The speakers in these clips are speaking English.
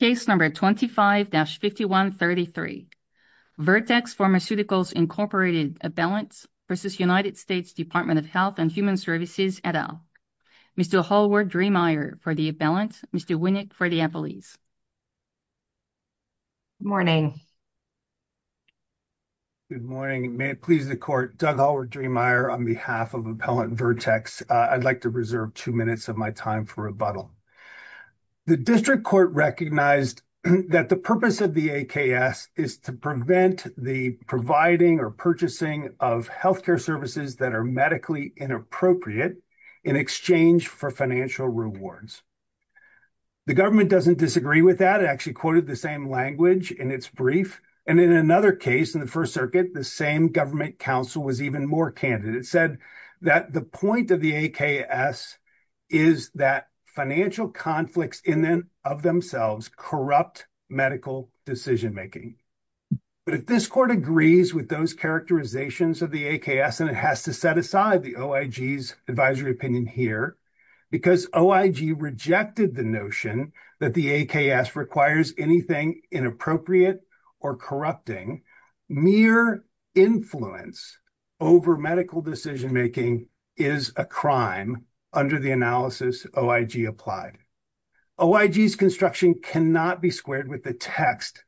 Case number 25-5133. Vertex Pharmaceuticals Incorporated Appellant v. United States Department of Health and Human Services et al. Mr. Hallward-Drehmeier for the appellant. Mr. Winnick for the appellees. Good morning. Good morning. May it please the Court. Doug Hallward-Drehmeier on behalf of Appellant Vertex. I'd like to reserve two minutes of my time for rebuttal. The District Court recognized that the purpose of the AKS is to prevent the providing or purchasing of health care services that are medically inappropriate in exchange for financial rewards. The government doesn't disagree with that. It actually quoted the same language in its brief. And in another case, in the First Circuit, the same government counsel was even more candid. It said that the point of the AKS is that financial conflicts in and of themselves corrupt medical decision making. If this Court agrees with those characterizations of the AKS, then it has to set aside the OIG's advisory opinion here. Because OIG rejected the notion that the AKS requires anything inappropriate or corrupting, mere influence over medical decision making is a crime under the analysis OIG applied. OIG's construction cannot be squared with the text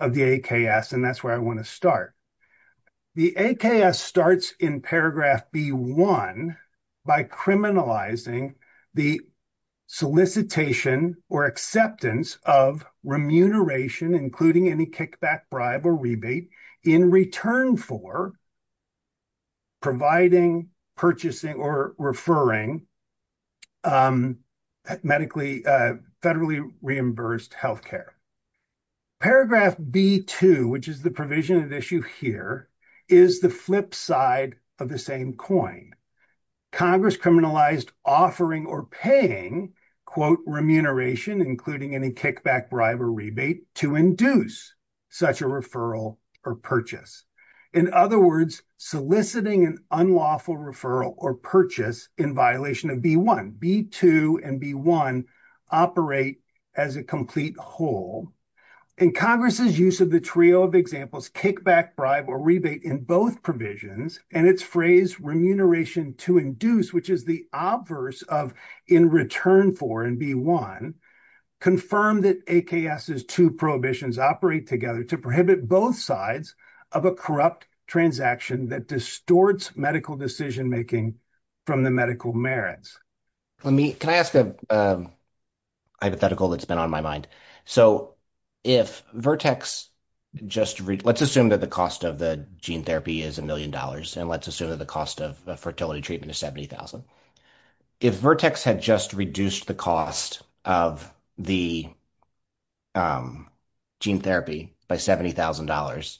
of the AKS. And that's where I want to start. The AKS starts in paragraph B-1 by criminalizing the solicitation or acceptance of remuneration, including any kickback, bribe, or rebate, in return for providing, purchasing, or referring medically, federally reimbursed health care. Paragraph B-2, which is the provision of issue here, is the flip side of the same coin. Congress criminalized offering or paying, quote, remuneration, including any kickback, bribe, or rebate, to induce such a referral or purchase. In other words, soliciting an unlawful referral or purchase in violation of B-1. B-2 and B-1 operate as a complete whole. And Congress's use of the trio of examples, kickback, bribe, or rebate, in both provisions, and its phrase remuneration to induce, which is the obverse of in return for in B-1, confirmed that AKS's two prohibitions operate together to prohibit both sides of a corrupt transaction that distorts medical decision making from the medical merits. Can I ask a hypothetical that's been on my mind? So if Vertex just, let's assume that the cost of the gene therapy is a million dollars, and let's assume that the cost of fertility treatment is $70,000. If Vertex had just reduced the cost of the gene therapy by $70,000,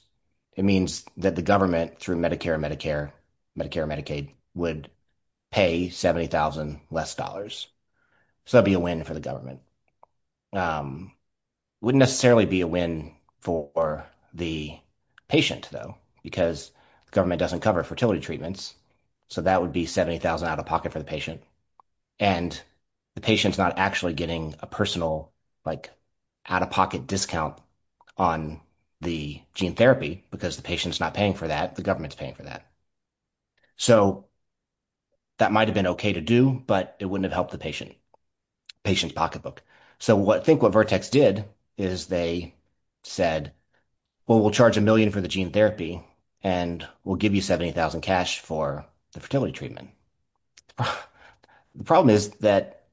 it means that the government, through Medicare, Medicare, Medicare, Medicaid, would pay $70,000 less. So that would be a win for the government. It wouldn't necessarily be a win for the patient, though, because the government doesn't cover fertility treatments, so that would be $70,000 out of pocket for the patient. And the patient's not actually getting a personal out-of-pocket discount on the gene therapy because the patient's not paying for that. The government's paying for that. So that might have been okay to do, but it wouldn't have helped the patient's pocketbook. So I think what Vertex did is they said, well, we'll charge a million for the gene therapy and we'll give you $70,000 cash for the fertility treatment. The problem is that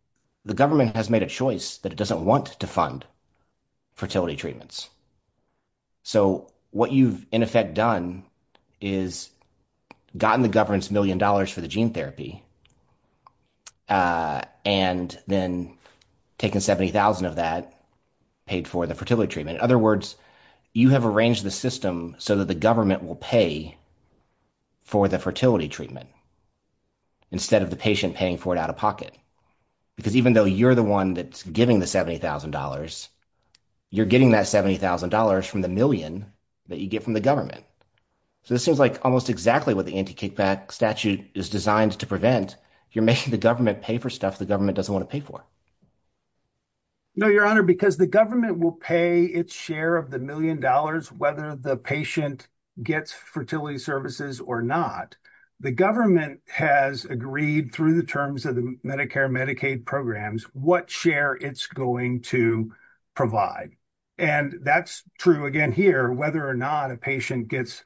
the government has made a choice that it doesn't want to fund fertility treatments. So what you've, in effect, done is gotten the government's million dollars for the gene therapy and then taken $70,000 of that, paid for the fertility treatment. In other words, you have arranged the system so that the government will pay for the fertility treatment instead of the patient paying for it out of pocket. Because even though you're the one that's giving the $70,000, you're getting that $70,000 from the million that you get from the government. So this seems like almost exactly what the anti-kickback statute is designed to prevent. You're making the government pay for stuff the government doesn't want to pay for. No, Your Honor, because the government will pay its share of the million dollars whether the patient gets fertility services or not. The government has agreed through the terms of the Medicare and Medicaid programs what share it's going to provide. And that's true, again, here, whether or not a patient gets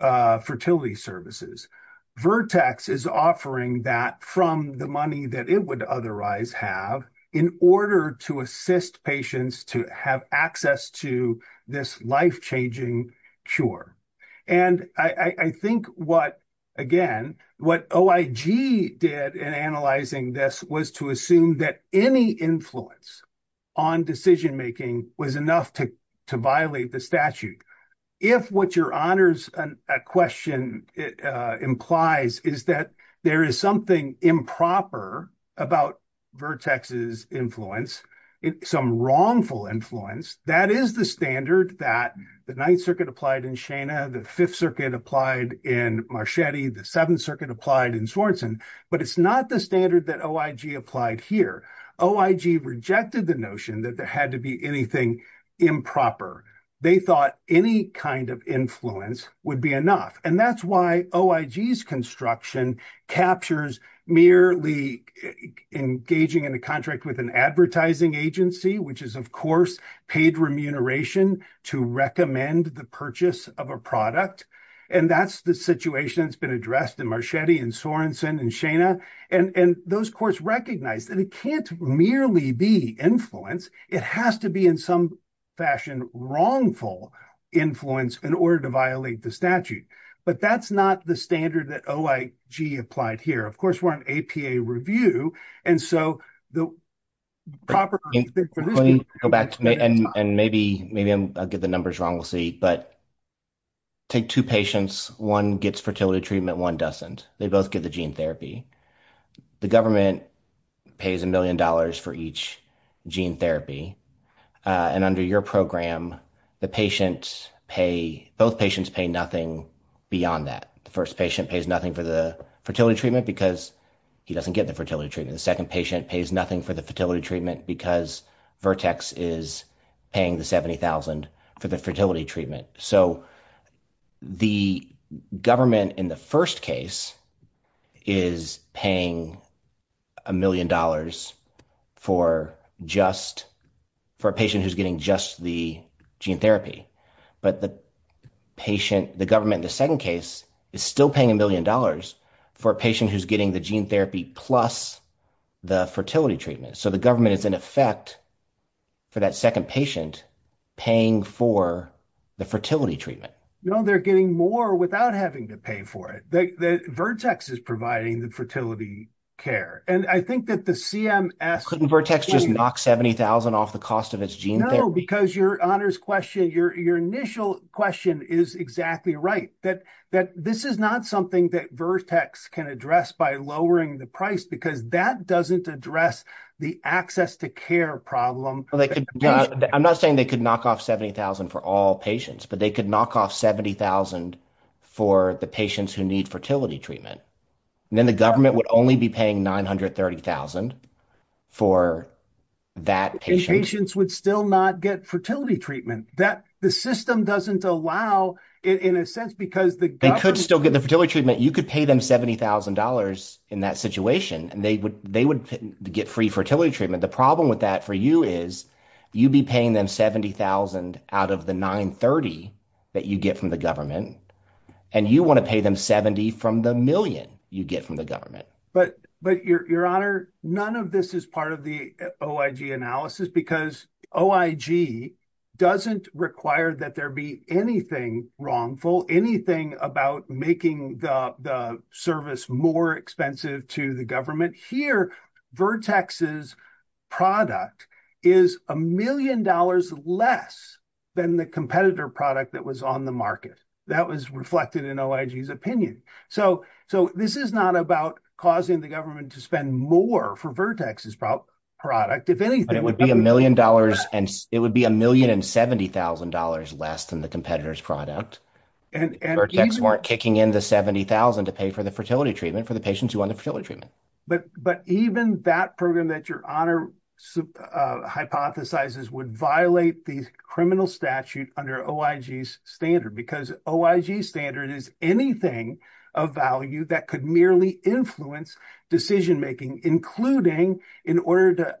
fertility services. Vertex is offering that from the money that it would otherwise have in order to assist patients to have access to this life-changing cure. And I think what, again, what OIG did in analyzing this was to assume that any influence on decision-making was enough to violate the statute. If what Your Honor's question implies is that there is something improper about Vertex's influence, some wrongful influence, that is the standard that the Ninth Circuit applied in Shana, the Fifth Circuit applied in Marchetti, the Seventh Circuit applied in Swanson. But it's not the standard that OIG applied here. OIG rejected the notion that there had to be anything improper. They thought any kind of influence would be enough. And that's why OIG's construction captures merely engaging in a contract with an advertising agency, which is, of course, paid remuneration to recommend the purchase of a product. And that's the situation that's been addressed in Marchetti and Swanson and Shana. And those courts recognized that it can't merely be influence. It has to be in some fashion wrongful influence in order to violate the statute. But that's not the standard that OIG applied here. Of course, we're on APA review. And so the proper reason for this is- And maybe I'll get the numbers wrong, we'll see. But take two patients. One gets fertility treatment, one doesn't. They both get the gene therapy. The government pays a million dollars for each gene therapy. And under your program, both patients pay nothing beyond that. The first patient pays nothing for the fertility treatment because he doesn't get the fertility treatment. The second patient pays nothing for the fertility treatment because Vertex is paying the $70,000 for the fertility treatment. So the government in the first case is paying a million dollars for a patient who's getting just the gene therapy. But the government in the second case is still paying a million dollars for a patient who's getting the gene therapy plus the fertility treatment. So the government is in effect, for that second patient, paying for the fertility treatment. No, they're getting more without having to pay for it. Vertex is providing the fertility care. And I think that the CMS- Couldn't Vertex just knock $70,000 off the cost of its gene therapy? No, because your initial question is exactly right. This is not something that Vertex can address by lowering the price because that doesn't address the access to care problem. I'm not saying they could knock off $70,000 for all patients, but they could knock off $70,000 for the patients who need fertility treatment. And then the government would only be paying $930,000 for that patient. Patients would still not get fertility treatment. The system doesn't allow it in a sense because the government- They could still get the fertility treatment. You could pay them $70,000 in that situation, and they would get free fertility treatment. The problem with that for you is you'd be paying them $70,000 out of the $930,000 that you get from the government, and you want to pay them $70,000 from the million you get from the government. Your Honor, none of this is part of the OIG analysis because OIG doesn't require that there be anything wrongful, anything about making the service more expensive to the government. Here, Vertex's product is $1 million less than the competitor product that was on the market. That was reflected in OIG's opinion. This is not about causing the government to spend more for Vertex's product. If anything- It would be $1 million and $70,000 less than the competitor's product. Vertex weren't kicking in the $70,000 to pay for the fertility treatment for the patients who wanted fertility treatment. Even that program that Your Honor hypothesizes would violate the criminal statute under OIG's standard because OIG's standard is anything of value that could merely influence decision-making, including in order to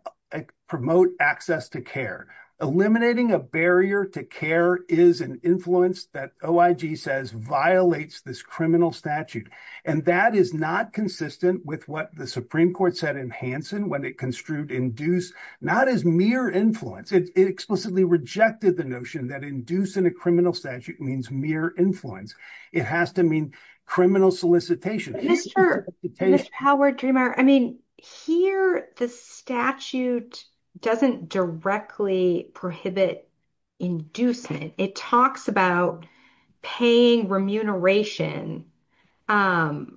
promote access to care. Eliminating a barrier to care is an influence that OIG says violates this criminal statute. That is not consistent with what the Supreme Court said in Hansen when it construed induced, not as mere influence. It explicitly rejected the notion that induced in a criminal statute means mere influence. It has to mean criminal solicitation. Here, the statute doesn't directly prohibit inducement. It talks about paying remuneration that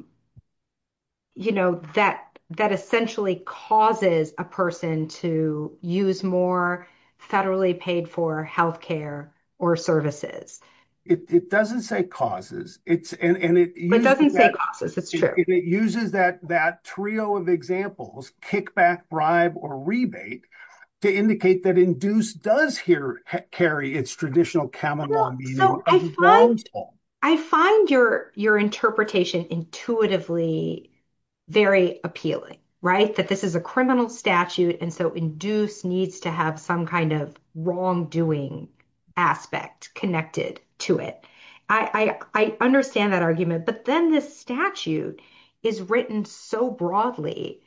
essentially causes a person to use more federally paid-for healthcare or services. It doesn't say causes. It doesn't say causes, it's true. It uses that trio of examples, kickback, bribe, or rebate, to indicate that induced does here carry its traditional common law meaning. I find your interpretation intuitively very appealing. Right? That this is a criminal statute and so induced needs to have some kind of wrongdoing aspect connected to it. I understand that argument. But then this statute is written so broadly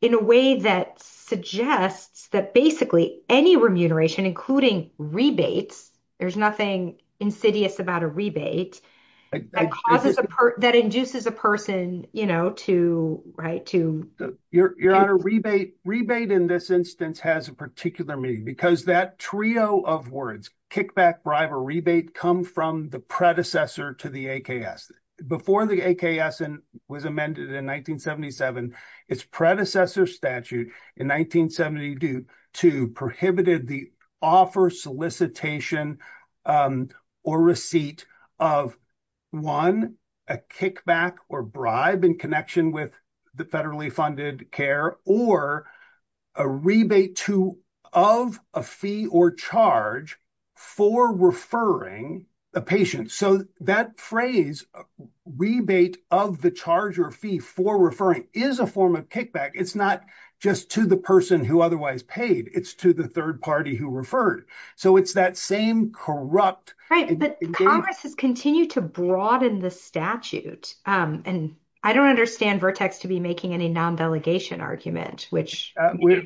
in a way that suggests that basically any remuneration, including rebates, there's nothing insidious about a rebate, that induces a person, you know, to, right, to- Your Honor, rebate in this instance has a particular meaning because that trio of words, kickback, bribe, or rebate, come from the predecessor to the AKS. Before the AKS was amended in 1977, its predecessor statute in 1972 prohibited the offer, solicitation, or receipt of, one, a kickback or bribe in connection with the federally funded care, or a rebate of a fee or charge for referring a patient. So that phrase, rebate of the charge or fee for referring, is a form of kickback. It's not just to the person who otherwise paid. It's to the third party who referred. So it's that same corrupt- Right. But Congress has continued to broaden the statute. And I don't understand Vertex to be making any non-delegation argument, which- We're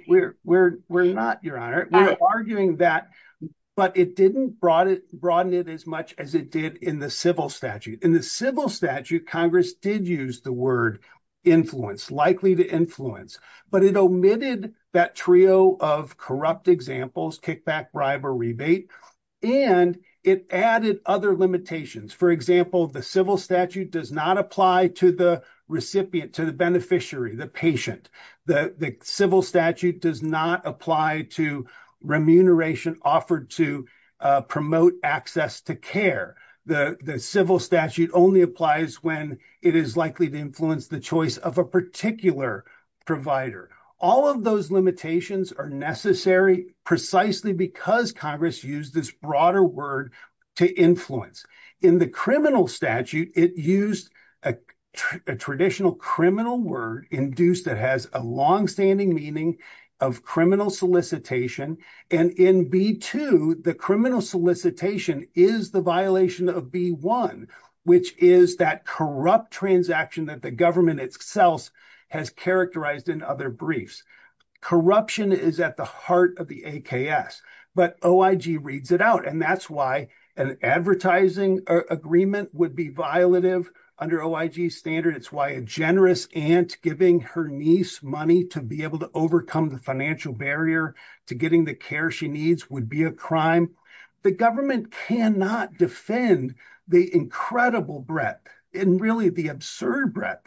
not, Your Honor. We're arguing that, but it didn't broaden it as much as it did in the civil statute. In the civil statute, Congress did use the word influence, likely to influence, but it omitted that trio of corrupt examples, kickback, bribe, or rebate, and it added other limitations. For example, the civil statute does not apply to the recipient, to the beneficiary, the patient. The civil statute does not apply to remuneration offered to promote access to care. The civil statute only applies when it is likely to influence the choice of a particular provider. All of those limitations are necessary precisely because Congress used this broader word to influence. In the criminal statute, it used a traditional criminal word induced that has a longstanding meaning of criminal solicitation. And in B-2, the criminal solicitation is the violation of B-1, which is that corrupt transaction that the government itself has characterized in other briefs. Corruption is at the heart of the AKS. But OIG reads it out, and that's why an advertising agreement would be violative under OIG's standard. It's why a generous aunt giving her niece money to be able to overcome the financial barrier to getting the care she needs would be a crime. The government cannot defend the incredible breadth and really the absurd breadth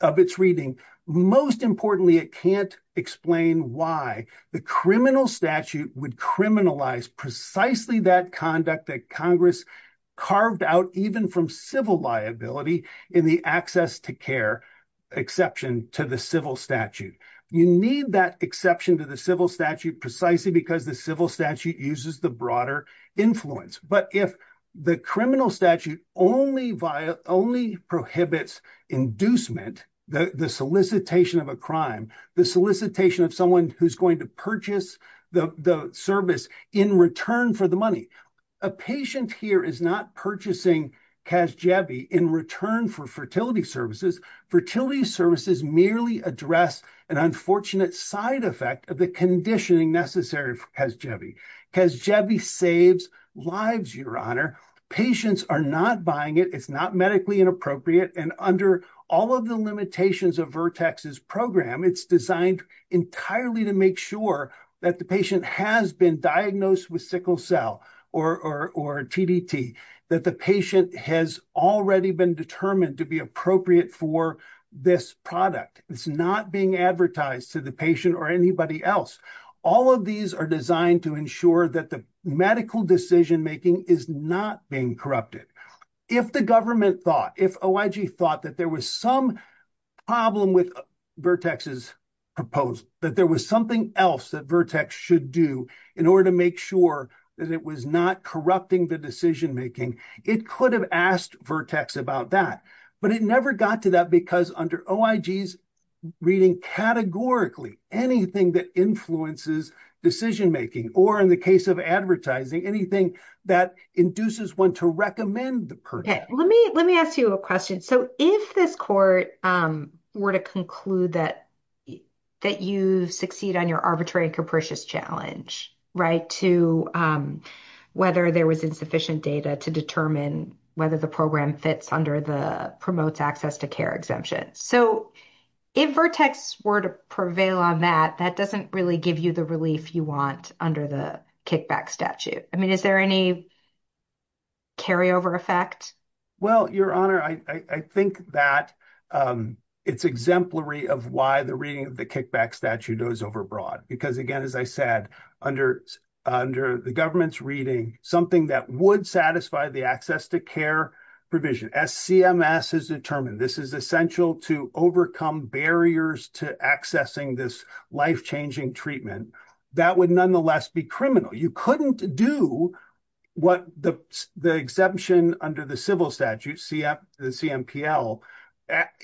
of its reading. Most importantly, it can't explain why the criminal statute would criminalize precisely that conduct that Congress carved out even from civil liability in the access to care exception to the civil statute. You need that exception to the civil statute precisely because the civil statute uses the broader influence. But if the criminal statute only prohibits inducement, the solicitation of a crime, the solicitation of someone who's going to purchase the service in return for the money. A patient here is not purchasing CASGEVI in return for fertility services. Fertility services merely address an unfortunate side effect of the conditioning necessary for CASGEVI. CASGEVI saves lives, Your Honor. Patients are not buying it. It's not medically inappropriate. And under all of the limitations of Virtex's program, it's designed entirely to make sure that the patient has been diagnosed with sickle cell or TDT, that the patient has already been determined to be appropriate for this product. It's not being advertised to the patient or anybody else. All of these are designed to ensure that the medical decision-making is not being corrupted. If the government thought, if OIG thought that there was some problem with Virtex's proposal, that there was something else that Virtex should do in order to make sure that it was not corrupting the decision-making, it could have asked Virtex about that. But it never got to that because under OIG's reading categorically, anything that influences decision-making or in the case of advertising, anything that induces one to recommend the program. Let me ask you a question. So if this court were to conclude that you succeed on your arbitrary and capricious challenge, right, to whether there was insufficient data to determine whether the program fits under the promotes access to care exemption. So if Virtex were to prevail on that, that doesn't really give you the relief you want under the kickback statute. I mean, is there any carryover effect? Well, Your Honor, I think that it's exemplary of why the reading of the kickback statute goes overbroad. Because again, as I said, under the government's reading, something that would satisfy the access to care provision. As CMS has determined, this is essential to overcome barriers to accessing this life-changing treatment. That would nonetheless be criminal. You couldn't do what the exemption under the civil statute, the CMPL,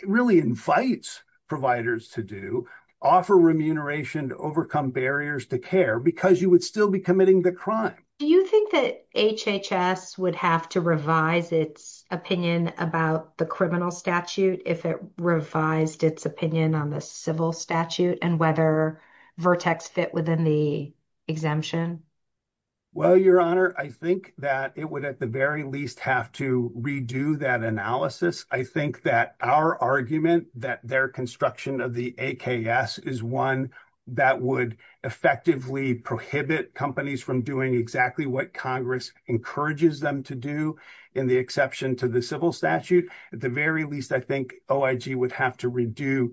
really invites providers to do, offer remuneration to overcome barriers to care, because you would still be committing the crime. Do you think that HHS would have to revise its opinion about the criminal statute if it revised its opinion on the civil statute and whether Virtex fit within the exemption? Well, Your Honor, I think that it would at the very least have to redo that analysis. I think that our argument that their construction of the AKS is one that would effectively prohibit companies from doing exactly what Congress encourages them to do in the exception to the civil statute, at the very least, I think OIG would have to redo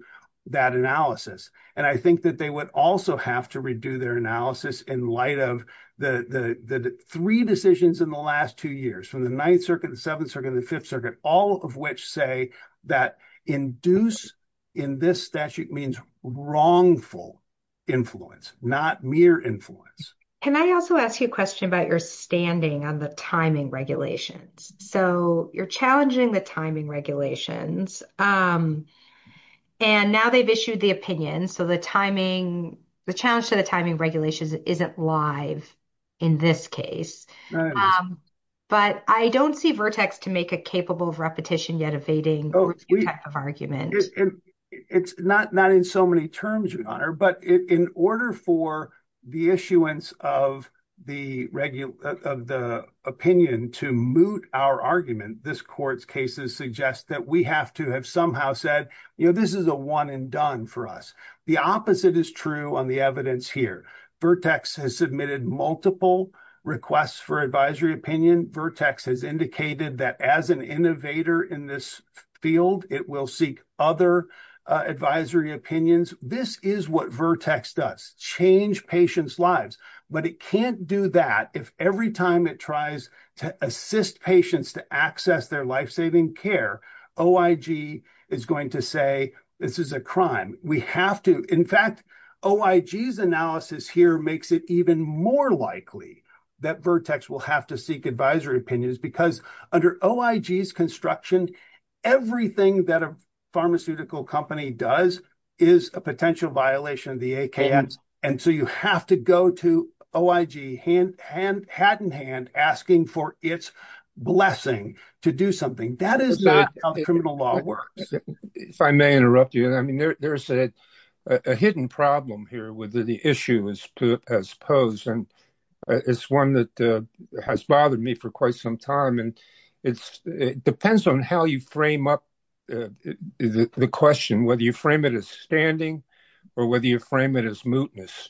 that analysis. And I think that they would also have to redo their analysis in light of the three decisions in the last two years, from the Ninth Circuit, the Seventh Circuit, and the Fifth Circuit, all of which say that induced in this statute means wrongful influence, not mere influence. Can I also ask you a question about your standing on the timing regulations? So you're challenging the timing regulations. And now they've issued the opinion, so the timing, the challenge to the timing regulations isn't live in this case. But I don't see Virtex to make a capable of repetition yet evading argument. It's not in so many terms, Your Honor. But in order for the issuance of the opinion to moot our argument, this court's cases suggest that we have to have somehow said, this is a one and done for us. The opposite is true on the evidence here. Virtex has submitted multiple requests for advisory opinion. Virtex has indicated that as an innovator in this field, it will seek other advisory opinions. This is what Virtex does, change patients' lives. But it can't do that if every time it tries to assist patients to access their life-saving care, OIG is going to say, this is a crime. In fact, OIG's analysis here makes it even more likely that Virtex will have to seek advisory opinions. Because under OIG's construction, everything that a pharmaceutical company does is a potential violation of the ACA. And so you have to go to OIG, hat in hand, asking for its blessing to do something. That is not how criminal law works. If I may interrupt you, there's a hidden problem here with the issue as posed. And it's one that has bothered me for quite some time. And it depends on how you frame up the question, whether you frame it as standing or whether you frame it as mootness.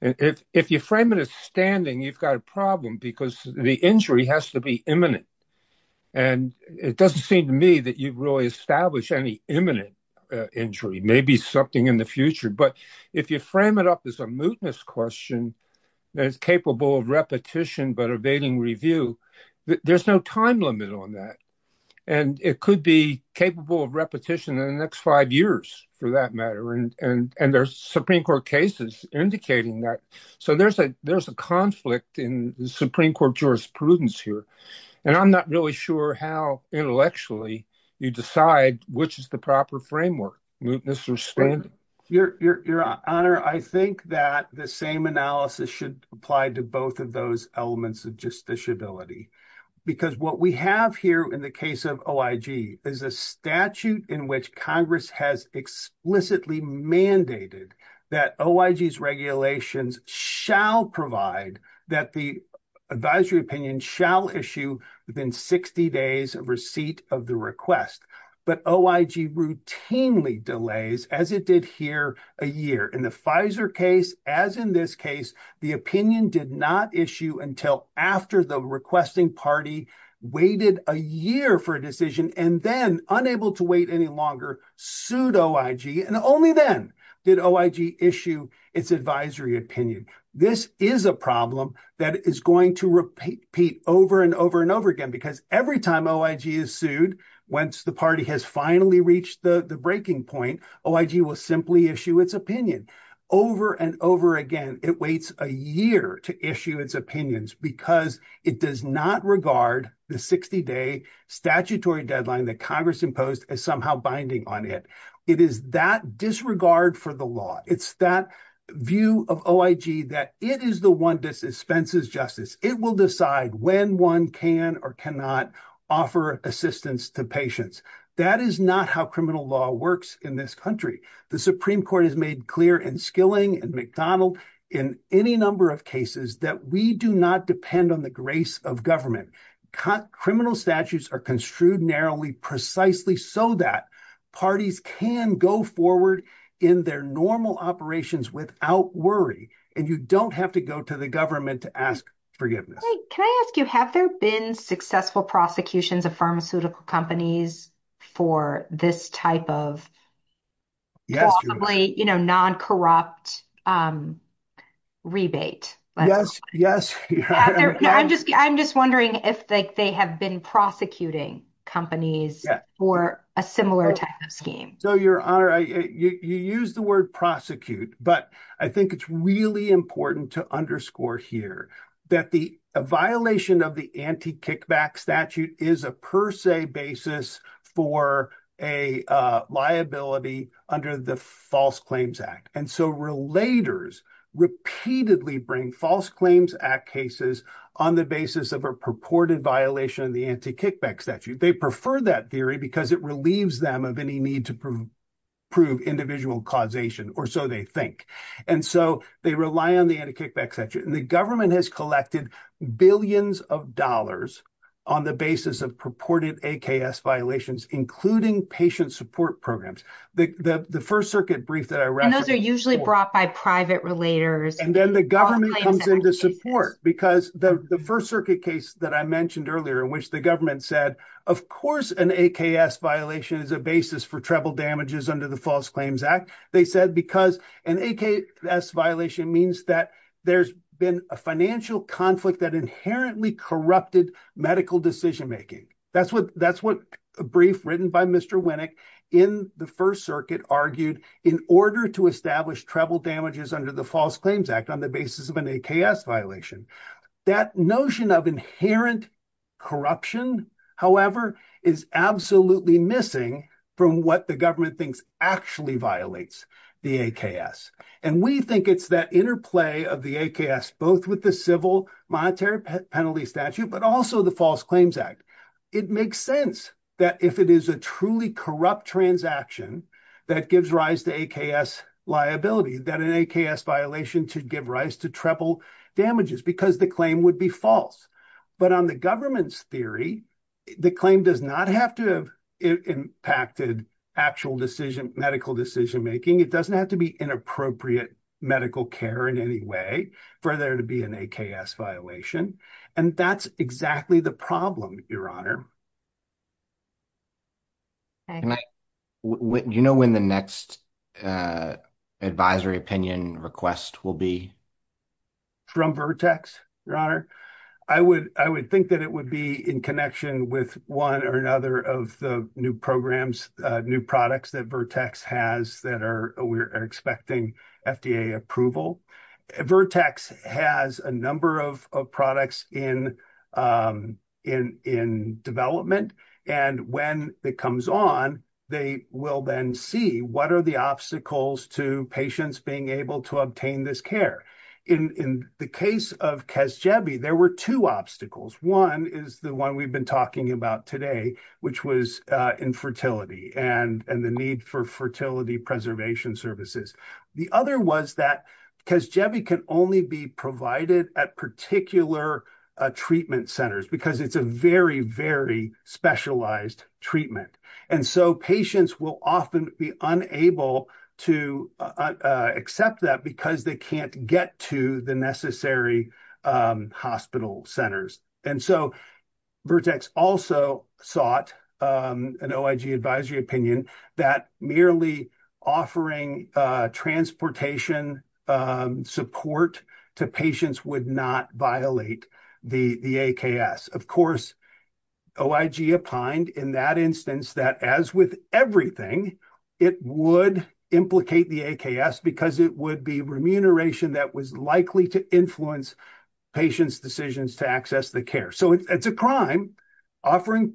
If you frame it as standing, you've got a problem because the injury has to be imminent. And it doesn't seem to me that you've really established any imminent injury, maybe something in the future. But if you frame it up as a mootness question that is capable of repetition but evading review, there's no time limit on that. And it could be capable of repetition in the next five years, for that matter. And there's Supreme Court cases indicating that. So there's a conflict in Supreme Court jurisprudence here. And I'm not really sure how intellectually you decide which is the proper framework, mootness or standing. Your Honor, I think that the same analysis should apply to both of those elements of justiciability. Because what we have here in the case of OIG is a statute in which Congress has explicitly mandated that OIG's regulations shall provide that the advisory opinion shall issue within 60 days of receipt of the request. But OIG routinely delays, as it did here, a year. In the Pfizer case, as in this case, the opinion did not issue until after the requesting party waited a year for a decision and then, unable to wait any longer, sued OIG. And only then did OIG issue its advisory opinion. This is a problem that is going to repeat over and over and over again. Because every time OIG is sued, once the party has finally reached the breaking point, OIG will simply issue its opinion. Over and over again, it waits a year to issue its opinions because it does not regard the 60-day statutory deadline that Congress imposed as somehow binding on it. It is that disregard for the law. It's that view of OIG that it is the one that dispenses justice. It will decide when one can or cannot offer assistance to patients. That is not how criminal law works in this country. The Supreme Court has made clear in Skilling and McDonald, in any number of cases, that we do not depend on the grace of government. Criminal statutes are construed narrowly precisely so that parties can go forward in their normal operations without worry. And you don't have to go to the government to ask forgiveness. Can I ask you, have there been successful prosecutions of pharmaceutical companies for this type of non-corrupt rebate? Yes, yes. I'm just wondering if they have been prosecuting companies for a similar type of scheme. So you use the word prosecute, but I think it's really important to underscore here that the violation of the anti-kickback statute is a per se basis for a liability under the False Claims Act. And so relators repeatedly bring False Claims Act cases on the basis of a purported violation of the anti-kickback statute. They prefer that theory because it relieves them of any need to prove individual causation, or so they think. And so they rely on the anti-kickback statute. And the government has collected billions of dollars on the basis of purported AKS violations, including patient support programs. And those are usually brought by private relators. And then the government comes in to support. Because the First Circuit case that I mentioned earlier in which the government said, of course an AKS violation is a basis for treble damages under the False Claims Act. They said because an AKS violation means that there's been a financial conflict that inherently corrupted medical decision making. That's what a brief written by Mr. Winnick in the First Circuit argued in order to establish treble damages under the False Claims Act on the basis of an AKS violation. That notion of inherent corruption, however, is absolutely missing from what the government thinks actually violates the AKS. And we think it's that interplay of the AKS, both with the civil monetary penalty statute, but also the False Claims Act. It makes sense that if it is a truly corrupt transaction that gives rise to AKS liability, that an AKS violation should give rise to treble damages because the claim would be false. But on the government's theory, the claim does not have to have impacted actual decision, medical decision making. It doesn't have to be inappropriate medical care in any way for there to be an AKS violation. And that's exactly the problem, Your Honor. Do you know when the next advisory opinion request will be? From Vertex, Your Honor? I would think that it would be in connection with one or another of the new programs, new products that Vertex has that are expecting FDA approval. Vertex has a number of products in development. And when it comes on, they will then see what are the obstacles to patients being able to obtain this care. In the case of Kes Jebe, there were two obstacles. One is the one we've been talking about today, which was infertility and the need for fertility preservation services. The other was that Kes Jebe can only be provided at particular treatment centers because it's a very, very specialized treatment. And so patients will often be unable to accept that because they can't get to the necessary hospital centers. And so Vertex also sought an OIG advisory opinion that merely offering transportation support to patients would not violate the AKS. Of course, OIG opined in that instance that as with everything, it would implicate the AKS because it would be remuneration that was likely to influence patients' decisions to access the care. So it's a crime. Offering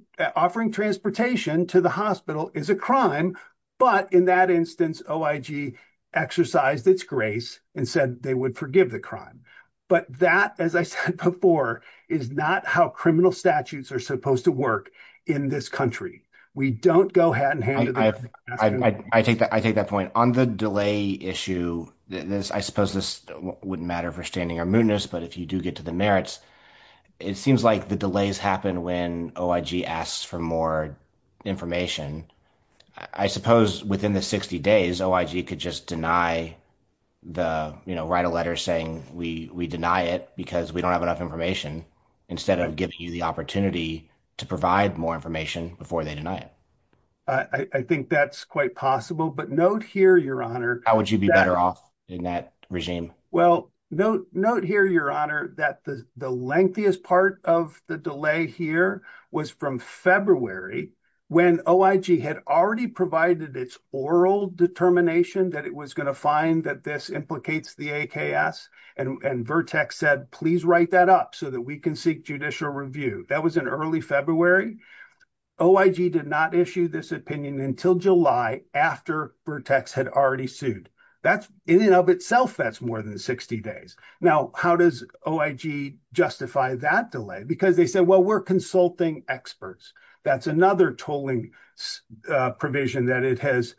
transportation to the hospital is a crime. But in that instance, OIG exercised its grace and said they would forgive the crime. But that, as I said before, is not how criminal statutes are supposed to work in this country. We don't go hand in hand. I take that point. On the delay issue, I suppose this wouldn't matter for standing or mootness, but if you do get to the merits, it seems like the delays happen when OIG asks for more information. I suppose within the 60 days, OIG could just deny the, you know, write a letter saying we deny it because we don't have enough information instead of giving you the opportunity to provide more information before they deny it. I think that's quite possible. But note here, Your Honor. How would you be better off in that regime? Well, note here, Your Honor, that the lengthiest part of the delay here was from February when OIG had already provided its oral determination that it was going to find that this implicates the AKS. And Vertex said, please write that up so that we can seek judicial review. That was in early February. OIG did not issue this opinion until July after Vertex had already sued. In and of itself, that's more than 60 days. Now, how does OIG justify that delay? Because they say, well, we're consulting experts. That's another tolling provision that it has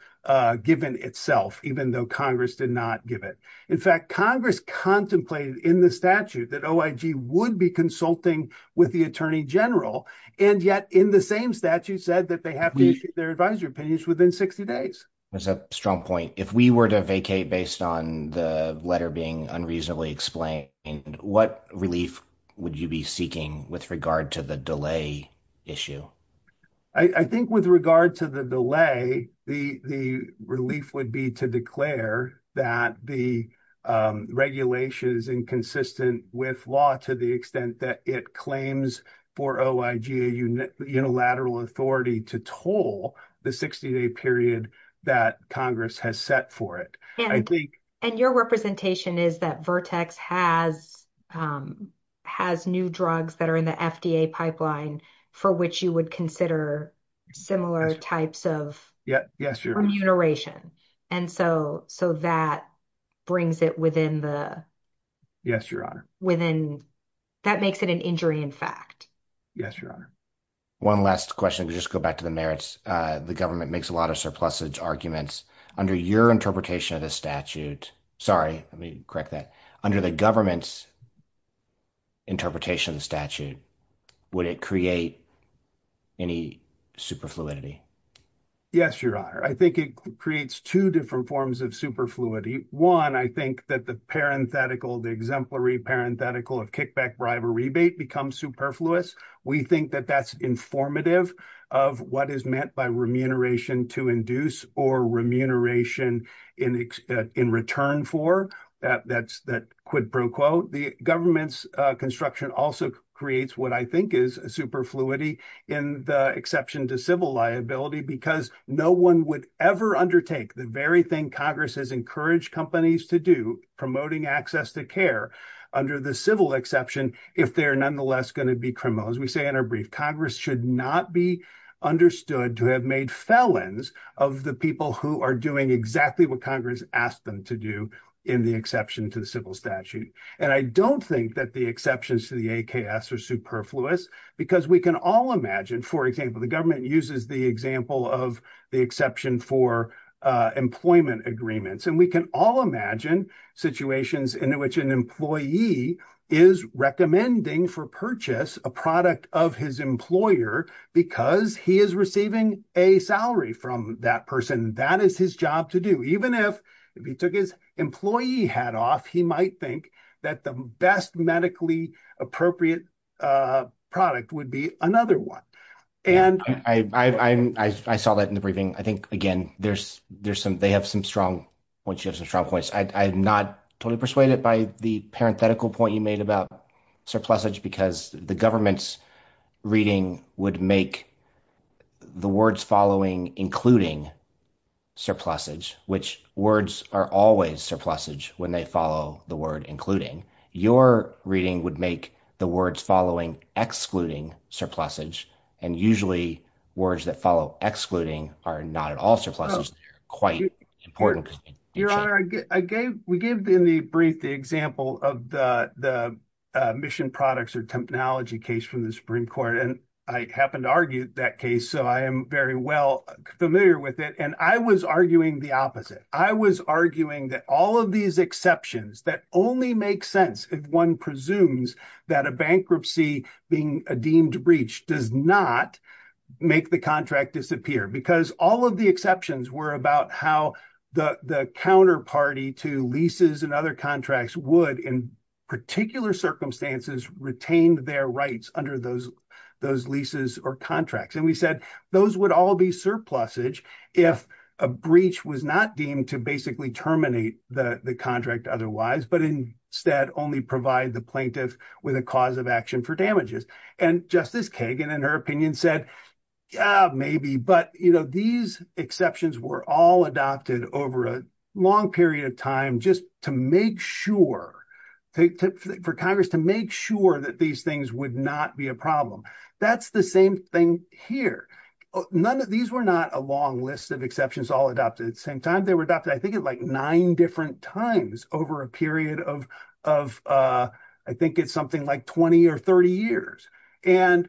given itself, even though Congress did not give it. In fact, Congress contemplated in the statute that OIG would be consulting with the Attorney General, and yet in the same statute said that they have to issue their advisory opinions within 60 days. That's a strong point. If we were to vacate based on the letter being unreasonably explained, what relief would you be seeking with regard to the delay issue? I think with regard to the delay, the relief would be to declare that the regulation is inconsistent with law to the extent that it claims for OIG unilateral authority to toll the 60-day period that Congress has set for it. And your representation is that Vertex has new drugs that are in the FDA pipeline for which you would consider similar types of remuneration. And so that brings it within the... Yes, Your Honor. That makes it an injury in fact. Yes, Your Honor. One last question to just go back to the merits. The government makes a lot of surplusage arguments. Under your interpretation of the statute... Sorry, let me correct that. Under the government's interpretation of the statute, would it create any superfluidity? Yes, Your Honor. I think it creates two different forms of superfluity. One, I think that the parenthetical, the exemplary parenthetical of kickback bribe or rebate becomes superfluous. We think that that's informative of what is meant by remuneration to induce or remuneration in return for. That quid pro quo. The government's construction also creates what I think is superfluity in the exception to civil liability because no one would ever undertake the very thing Congress has encouraged companies to do, promoting access to care, under the civil exception, if they are nonetheless going to be criminals. As we say in our brief, Congress should not be understood to have made felons of the people who are doing exactly what Congress asked them to do in the exception to the civil statute. And I don't think that the exceptions to the AKS are superfluous because we can all imagine, for example, the government uses the example of the exception for employment agreements. And we can all imagine situations in which an employee is recommending for purchase a product of his employer because he is receiving a salary from that person. That is his job to do. Even if he took his employee hat off, he might think that the best medically appropriate product would be another one. I saw that in the briefing. I think, again, they have some strong points. I'm not totally persuaded by the parenthetical point you made about surplusage because the government's reading would make the words following including surplusage, which words are always surplusage when they follow the word including. Your reading would make the words following excluding surplusage. And usually words that follow excluding are not at all surplusage. It's quite important. Your Honor, we gave in the brief the example of the mission products or technology case from the Supreme Court. And I happened to argue that case, so I am very well familiar with it. And I was arguing the opposite. I was arguing that all of these exceptions that only make sense if one presumes that a bankruptcy being a deemed breach does not make the contract disappear. Because all of the exceptions were about how the counterparty to leases and other contracts would, in particular circumstances, retain their rights under those leases or contracts. And we said those would all be surplusage if a breach was not deemed to basically terminate the contract otherwise, but instead only provide the plaintiff with a cause of action for damages. And Justice Kagan, in her opinion, said, yeah, maybe. But, you know, these exceptions were all adopted over a long period of time just to make sure, for Congress to make sure that these things would not be a problem. That's the same thing here. These were not a long list of exceptions all adopted at the same time. They were adopted I think at like nine different times over a period of I think it's something like 20 or 30 years. And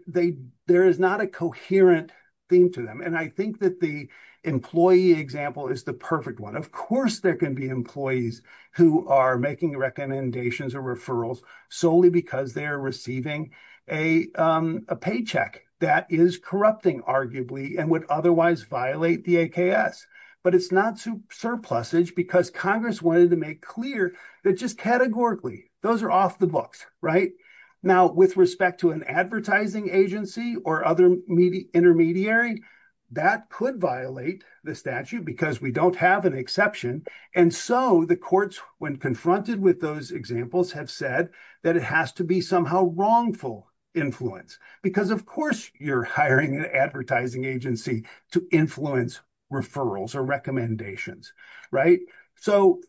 there is not a coherent theme to them. And I think that the employee example is the perfect one. Of course there can be employees who are making recommendations or referrals solely because they are receiving a paycheck that is corrupting, arguably, and would otherwise violate the AKS. But it's not surplusage because Congress wanted to make clear that just categorically those are off the books, right? Now, with respect to an advertising agency or other intermediary, that could violate the statute because we don't have an exception. And so the courts, when confronted with those examples, have said that it has to be somehow wrongful influence because, of course, you're hiring an advertising agency to influence referrals or recommendations, right? So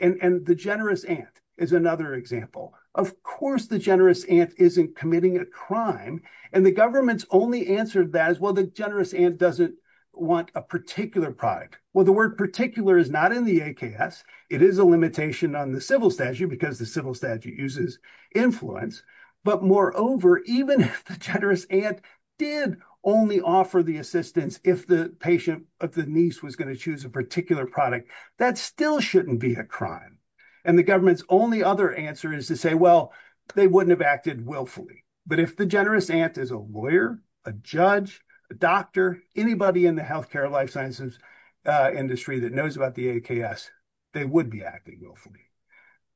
and the generous ant is another example. Of course the generous ant isn't committing a crime. And the government's only answer to that is, well, the generous ant doesn't want a particular product. Well, the word particular is not in the AKS. It is a limitation on the civil statute because the civil statute uses influence. But, moreover, even if the generous ant did only offer the assistance if the patient of the niece was going to choose a particular product, that still shouldn't be a crime. And the government's only other answer is to say, well, they wouldn't have acted willfully. But if the generous ant is a lawyer, a judge, a doctor, anybody in the health care life sciences industry that knows about the AKS, they would be acting willfully.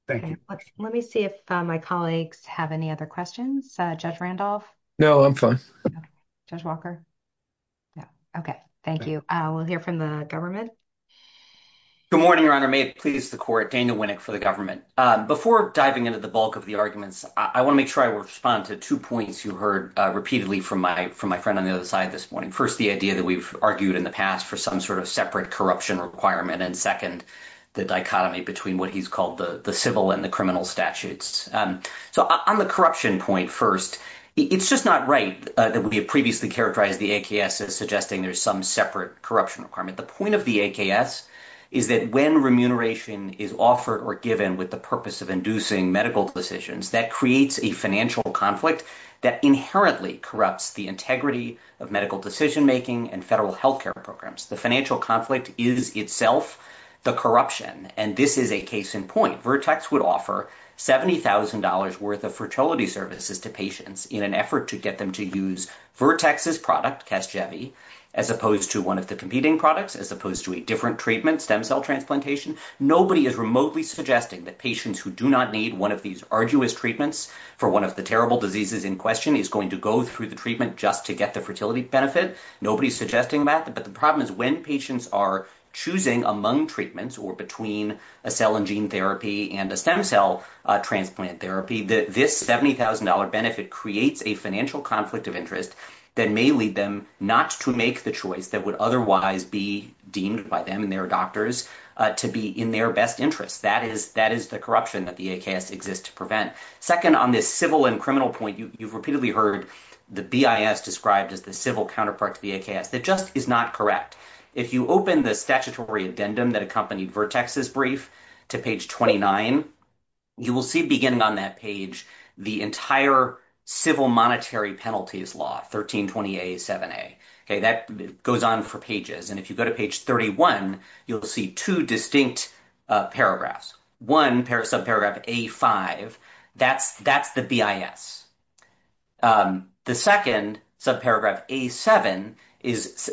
Thank you. Let me see if my colleagues have any other questions. Judge Randolph. No, I'm fine. Judge Walker. Okay. Thank you. We'll hear from the government. Good morning, Your Honor. May it please the court, Daniel Winnick for the government. Before diving into the bulk of the arguments, I want to make sure I respond to two points you heard repeatedly from my friend on the other side this morning. First, the idea that we've argued in the past for some sort of separate corruption requirement. And, second, the dichotomy between what he's called the civil and the criminal statutes. So on the corruption point first, it's just not right that we have previously characterized the AKS as suggesting there's some separate corruption requirement. The point of the AKS is that when remuneration is offered or given with the purpose of inducing medical decisions, that creates a financial conflict that inherently corrupts the integrity of medical decision-making and federal health care programs. The financial conflict is itself the corruption, and this is a case in point. So, for example, if Vertex would offer $70,000 worth of fertility services to patients in an effort to get them to use Vertex's product, Test Jevy, as opposed to one of the competing products, as opposed to a different treatment, stem cell transplantation, nobody is remotely suggesting that patients who do not need one of these arduous treatments for one of the terrible diseases in question is going to go through the treatment just to get the fertility benefits. Nobody is suggesting that, but the problem is when patients are choosing among treatments or between a cell and gene therapy and a stem cell transplant therapy, this $70,000 benefit creates a financial conflict of interest that may lead them not to make the choice that would otherwise be deemed by them and their doctors to be in their best interest. That is the corruption that the AKS exists to prevent. Second, on this civil and criminal point, you've repeatedly heard the BIS described as the civil counterpart to the AKS. It just is not correct. If you open the statutory addendum that accompanied Vertex's brief to page 29, you will see, beginning on that page, the entire civil monetary penalties law, 1320A, 7A. That goes on for pages, and if you go to page 31, you'll see two distinct paragraphs. One, subparagraph A5, that's the BIS. The second, subparagraph A7,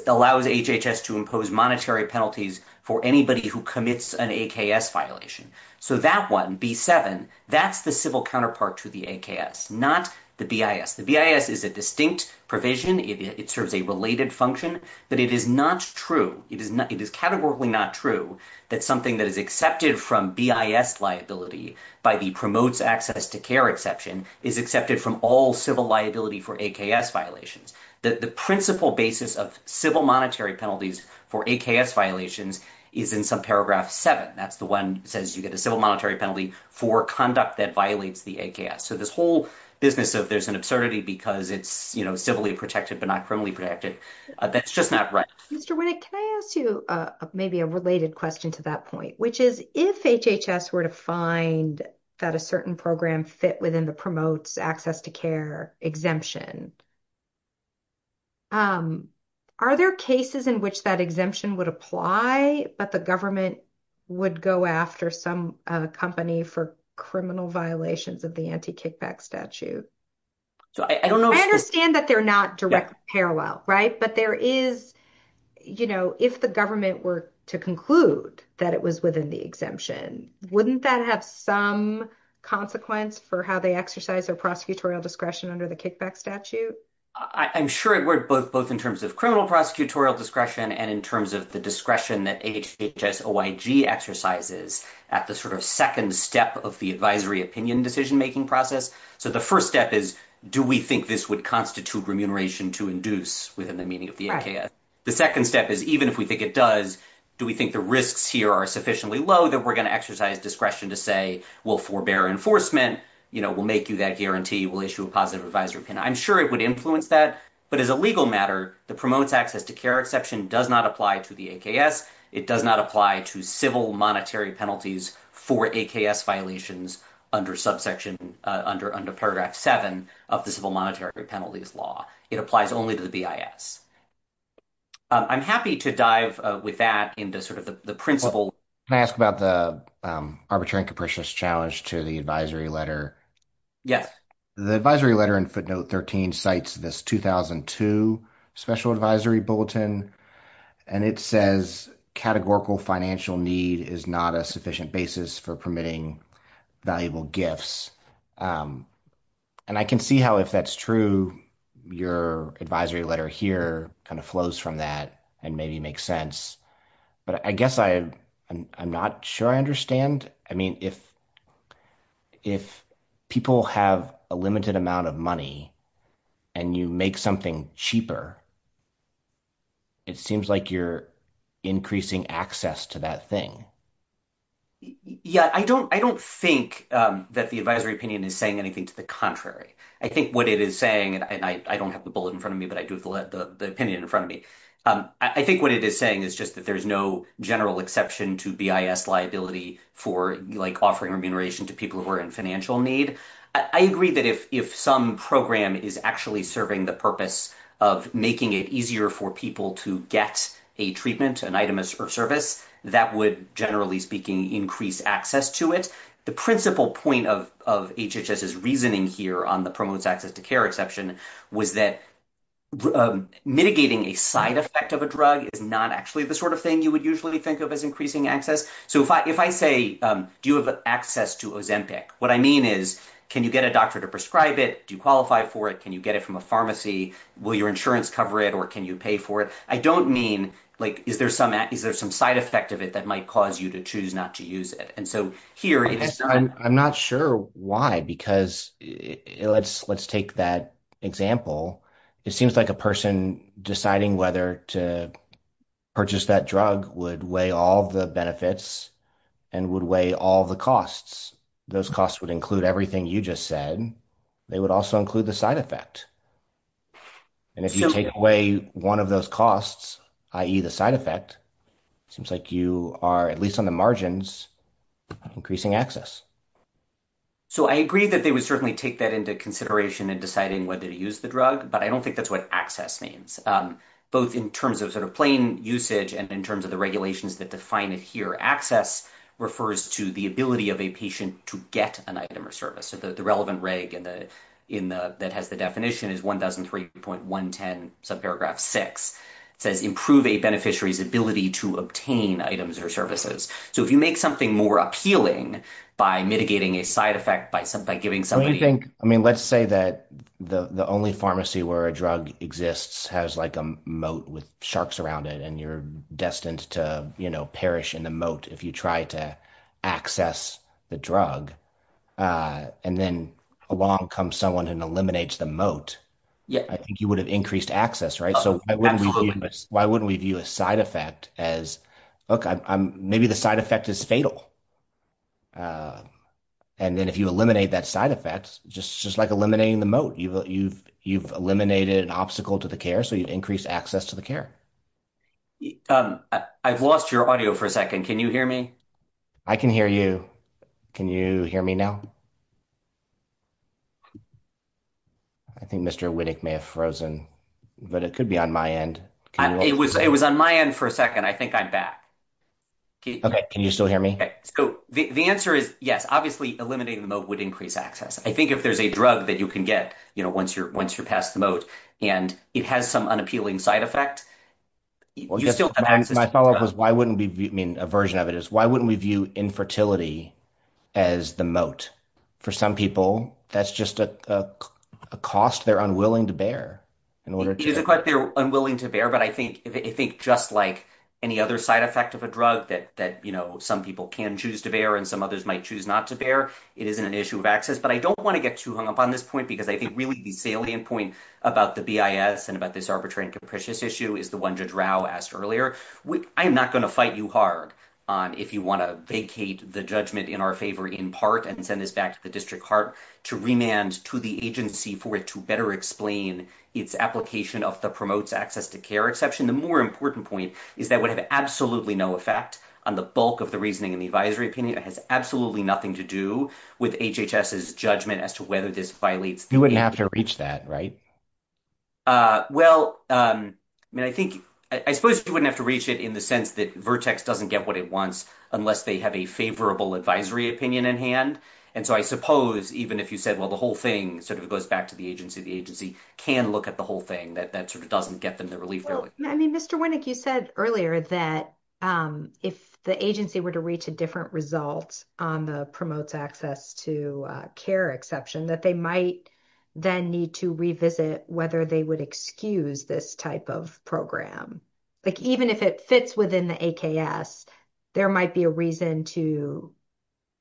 allows HHS to impose monetary penalties for anybody who commits an AKS violation. So that one, B7, that's the civil counterpart to the AKS, not the BIS. The BIS is a distinct provision. It serves a related function, but it is not true. It is categorically not true that something that is accepted from BIS liability by the promotes access to care exception is accepted from all civil liability for AKS violations. The principal basis of civil monetary penalties for AKS violations is in subparagraph 7. That's the one that says you get a civil monetary penalty for conduct that violates the AKS. So this whole business of there's an absurdity because it's, you know, civilly protected but not criminally protected, that's just not right. Mr. Winnick, can I ask you maybe a related question to that point, which is, if HHS were to find that a certain program fit within the promotes access to care exemption, are there cases in which that exemption would apply, but the government would go after some company for criminal violations of the anti-kickback statute? So I don't know. I understand that they're not direct parallel. Right. But there is, you know, if the government were to conclude that it was within the exemption, wouldn't that have some consequence for how they exercise their prosecutorial discretion under the kickback statute? I'm sure it would, both in terms of criminal prosecutorial discretion and in terms of the discretion that HHS OIG exercises at the sort of second step of the advisory opinion decision making process. So the first step is, do we think this would constitute remuneration to induce within the meaning of the AKS? The second step is, even if we think it does, do we think the risks here are sufficiently low that we're going to exercise discretion to say we'll forbear enforcement, you know, we'll make you that guarantee, we'll issue a positive advisory opinion. I'm sure it would influence that. But as a legal matter, the promotes access to care exception does not apply to the AKS. It does not apply to civil monetary penalties for AKS violations under subsection under under paragraph seven of the civil monetary penalties law. It applies only to the BIS. I'm happy to dive with that into sort of the principle. Can I ask about the arbitrary and capricious challenge to the advisory letter? Yes. The advisory letter in footnote 13 cites this 2002 special advisory bulletin, and it says categorical financial need is not a sufficient basis for permitting valuable gifts. And I can see how if that's true, your advisory letter here kind of flows from that and maybe makes sense. But I guess I am not sure I understand. I mean, if if people have a limited amount of money and you make something cheaper. It seems like you're increasing access to that thing. Yeah, I don't I don't think that the advisory opinion is saying anything to the contrary. I think what it is saying and I don't have the bullet in front of me, but I do have the opinion in front of me. I think what it is saying is just that there's no general exception to BIS liability for like offering remuneration to people who are in financial need. I agree that if some program is actually serving the purpose of making it easier for people to get a treatment, an item of service, that would generally speaking increase access to it. The principal point of HHS's reasoning here on the promotes access to care exception was that mitigating a side effect of a drug is not actually the sort of thing you would usually think of as increasing access. So if I if I say, do you have access to Ozempic? What I mean is, can you get a doctor to prescribe it? Do you qualify for it? Can you get it from a pharmacy? Will your insurance cover it or can you pay for it? I don't mean like is there some is there some side effect of it that might cause you to choose not to use it? I'm not sure why, because let's let's take that example. It seems like a person deciding whether to purchase that drug would weigh all the benefits and would weigh all the costs. Those costs would include everything you just said. They would also include the side effect. And if you take away one of those costs, i.e. the side effect, it seems like you are at least on the margins of increasing access. So I agree that they would certainly take that into consideration in deciding whether to use the drug. But I don't think that's what access means, both in terms of sort of plain usage and in terms of the regulations that define it here. Access refers to the ability of a patient to get an item or service. The relevant reg that has the definition is one thousand three point one ten, subparagraph six. It says improve a beneficiary's ability to obtain items or services. So if you make something more appealing by mitigating a side effect by giving somebody. I mean, let's say that the only pharmacy where a drug exists has like a moat with sharks around it and you're destined to, you know, perish in the moat. If you try to access the drug and then along comes someone and eliminates the moat. Yeah, I think you would have increased access. Right. So why wouldn't we do a side effect as maybe the side effect is fatal? And then if you eliminate that side effects, just just like eliminating the moat, you've you've you've eliminated an obstacle to the care. So you increase access to the care. I've lost your audio for a second. Can you hear me? I can hear you. Can you hear me now? I think Mr. Wittig may have frozen, but it could be on my end. It was it was on my end for a second. I think I'm back. OK, can you still hear me? So the answer is yes. Obviously, eliminating the moat would increase access. I think if there's a drug that you can get, you know, once you're once you pass the moat and it has some unappealing side effect. Well, my follow up is why wouldn't we mean a version of it is why wouldn't we view infertility as the moat for some people? That's just a cost they're unwilling to bear. It is a cost they're unwilling to bear. But I think I think just like any other side effect of a drug that that, you know, some people can choose to bear and some others might choose not to bear. It isn't an issue of access. But I don't want to get too hung up on this point because I think really the failing point about the BIS and about this arbitrary and capricious issue is the one Judge Rao asked earlier. I'm not going to fight you hard on if you want to vacate the judgment in our favor in part and send this back to the district court to remand to the agency for it to better explain its application of the promotes access to care exception. The more important point is that would have absolutely no effect on the bulk of the reasoning and advisory opinion. It has absolutely nothing to do with HHS's judgment as to whether this violates. You wouldn't have to reach that, right? Well, I think I suppose you wouldn't have to reach it in the sense that Vertex doesn't get what it wants unless they have a favorable advisory opinion in hand. And so I suppose even if you said, well, the whole thing sort of goes back to the agency, the agency can look at the whole thing that that sort of doesn't get them the relief. I mean, Mr. Winnick, you said earlier that if the agency were to reach a different results on the promotes access to care exception, that they might then need to revisit whether they would excuse this type of program. But even if it fits within the AKS, there might be a reason to,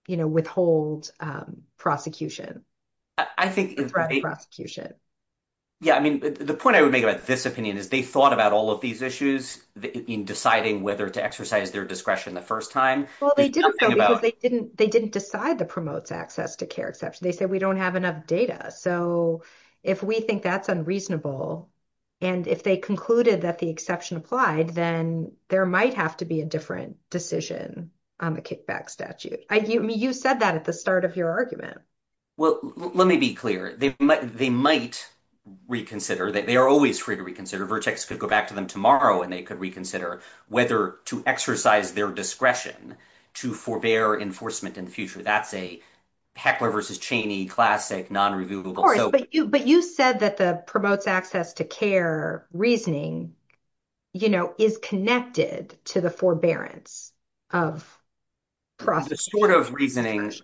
you know, withhold prosecution. I think the prosecution. Yeah. I mean, the point I would make about this opinion is they thought about all of these issues in deciding whether to exercise their discretion the first time. Well, they didn't know because they didn't they didn't decide the promotes access to care exception. They said we don't have enough data. So if we think that's unreasonable and if they concluded that the exception applied, then there might have to be a different decision on the kickback statute. I mean, you said that at the start of your argument. Well, let me be clear. They might reconsider that. They are always free to reconsider. Vertex could go back to them tomorrow and they could reconsider whether to exercise their discretion to forbear enforcement in the future. That's a heckler versus Cheney classic non-reviewable. But you said that the promotes access to care reasoning, you know, is connected to the forbearance of. The sort of reasoning.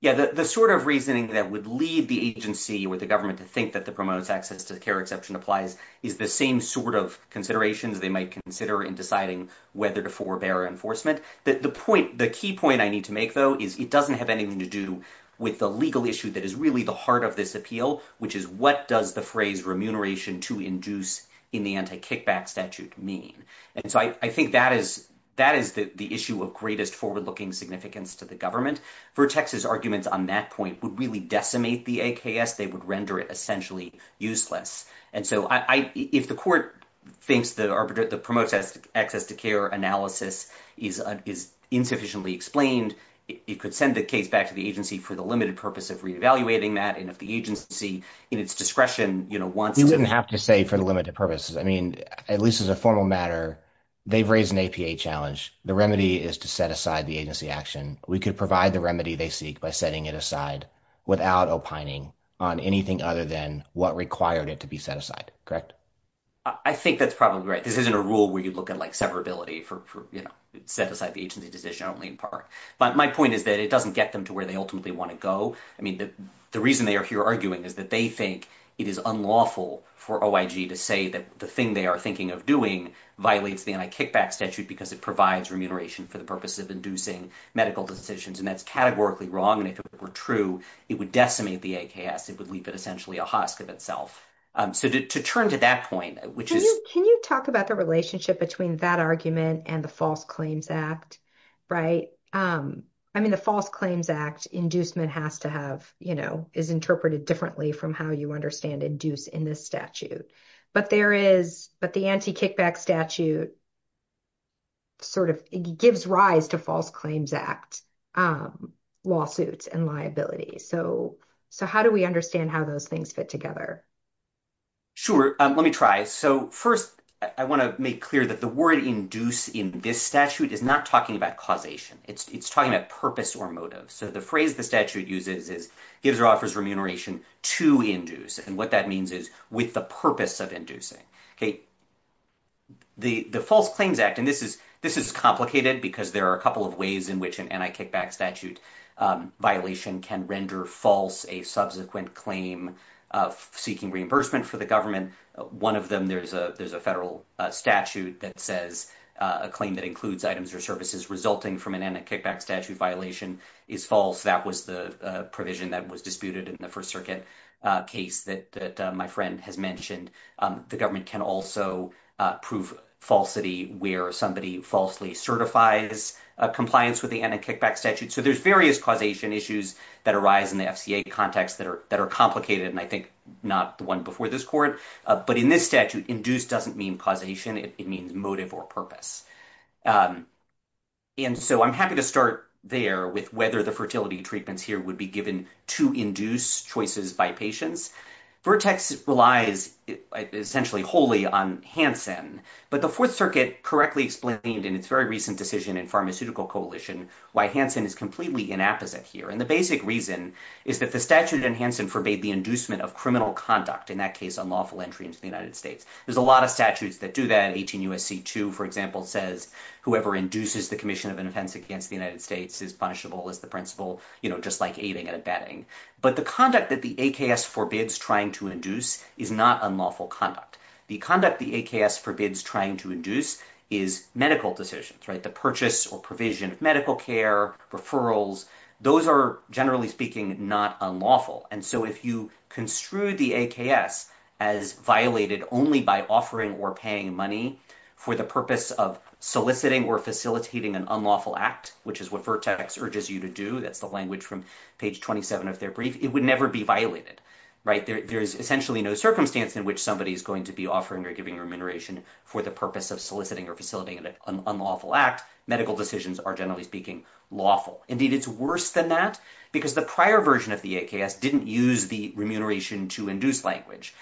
Yeah. The sort of reasoning that would leave the agency with the government to think that the promotes access to the care exception applies is the same sort of consideration that they might consider in deciding whether to forbear enforcement. But the point the key point I need to make, though, is it doesn't have anything to do with the legal issue that is really the heart of this appeal, which is what does the phrase remuneration to induce in the anti kickback statute mean? And so I think that is that is the issue of greatest forward looking significance to the government for Texas. Arguments on that point would really decimate the AKS. They would render it essentially useless. And so if the court thinks that the promotes access to care analysis is is insufficiently explained, it could send the case back to the agency for the limited purpose of reevaluating that. And if the agency in its discretion, you know, once you wouldn't have to say for the limited purposes. I mean, at least as a formal matter, they've raised an APA challenge. The remedy is to set aside the agency action. We could provide the remedy they seek by setting it aside without opining on anything other than what required it to be set aside. Correct. I think that's probably right. This isn't a rule where you look at like severability for set aside the agency decision only part. But my point is that it doesn't get them to where they ultimately want to go. I mean, the reason they are here arguing that they think it is unlawful for OIG to say that the thing they are thinking of doing violently and a kickback statute because it provides remuneration for the purpose of inducing medical decisions. And that's categorically wrong. And if it were true, it would decimate the AKS. It would leave it essentially a husk of itself. So to turn to that point, which is. Can you talk about the relationship between that argument and the False Claims Act? Right. I mean, the False Claims Act inducement has to have, you know, is interpreted differently from how you understand induced in this statute. But there is. But the anti-kickback statute. Sort of gives rise to False Claims Act lawsuits and liability. So. So how do we understand how those things fit together? Sure. Let me try. So first, I want to make clear that the word induced in this statute is not talking about causation. It's talking about purpose or motive. So the phrase the statute uses is gives or offers remuneration to induce. And what that means is with the purpose of inducing. The False Claims Act, and this is this is complicated because there are a couple of ways in which an anti-kickback statute violation can render false a subsequent claim of seeking reimbursement for the government. One of them, there's a there's a federal statute that says a claim that includes items or services resulting from an anti-kickback statute violation is false. That was the provision that was disputed in the First Circuit case that my friend has mentioned. The government can also prove falsity where somebody falsely certifies compliance with the anti-kickback statute. So there's various causation issues that arise in the FCA context that are that are complicated and I think not the one before this court. But in this statute, induced doesn't mean causation. It means motive or purpose. And so I'm happy to start there with whether the fertility treatments here would be given to induce choices by patients. Vertex relies essentially wholly on Hansen. But the Fourth Circuit correctly explained in its very recent decision in Pharmaceutical Coalition why Hansen is completely inapposite here. And the basic reason is that the statute in Hansen forbade the inducement of criminal conduct. In that case, unlawful entry into the United States. There's a lot of statutes that do that. 18 U.S.C. 2, for example, says whoever induces the commission of an offense against the United States is punishable as the principle, you know, just like aiding and abetting. But the conduct that the AKS forbids trying to induce is not unlawful conduct. The conduct the AKS forbids trying to induce is medical decisions, right? The purchase or provision of medical care, referrals. Those are generally speaking, not unlawful. And so if you construe the AKS as violated only by offering or paying money for the purpose of soliciting or facilitating an unlawful act, which is what Vertex urges you to do. That's the language from page 27 of their brief. It would never be violated. There's essentially no circumstance in which somebody is going to be offering or giving remuneration for the purpose of soliciting or facilitating an unlawful act. Medical decisions are, generally speaking, lawful. Indeed, it's worse than that because the prior version of the AKS didn't use the remuneration to induce language.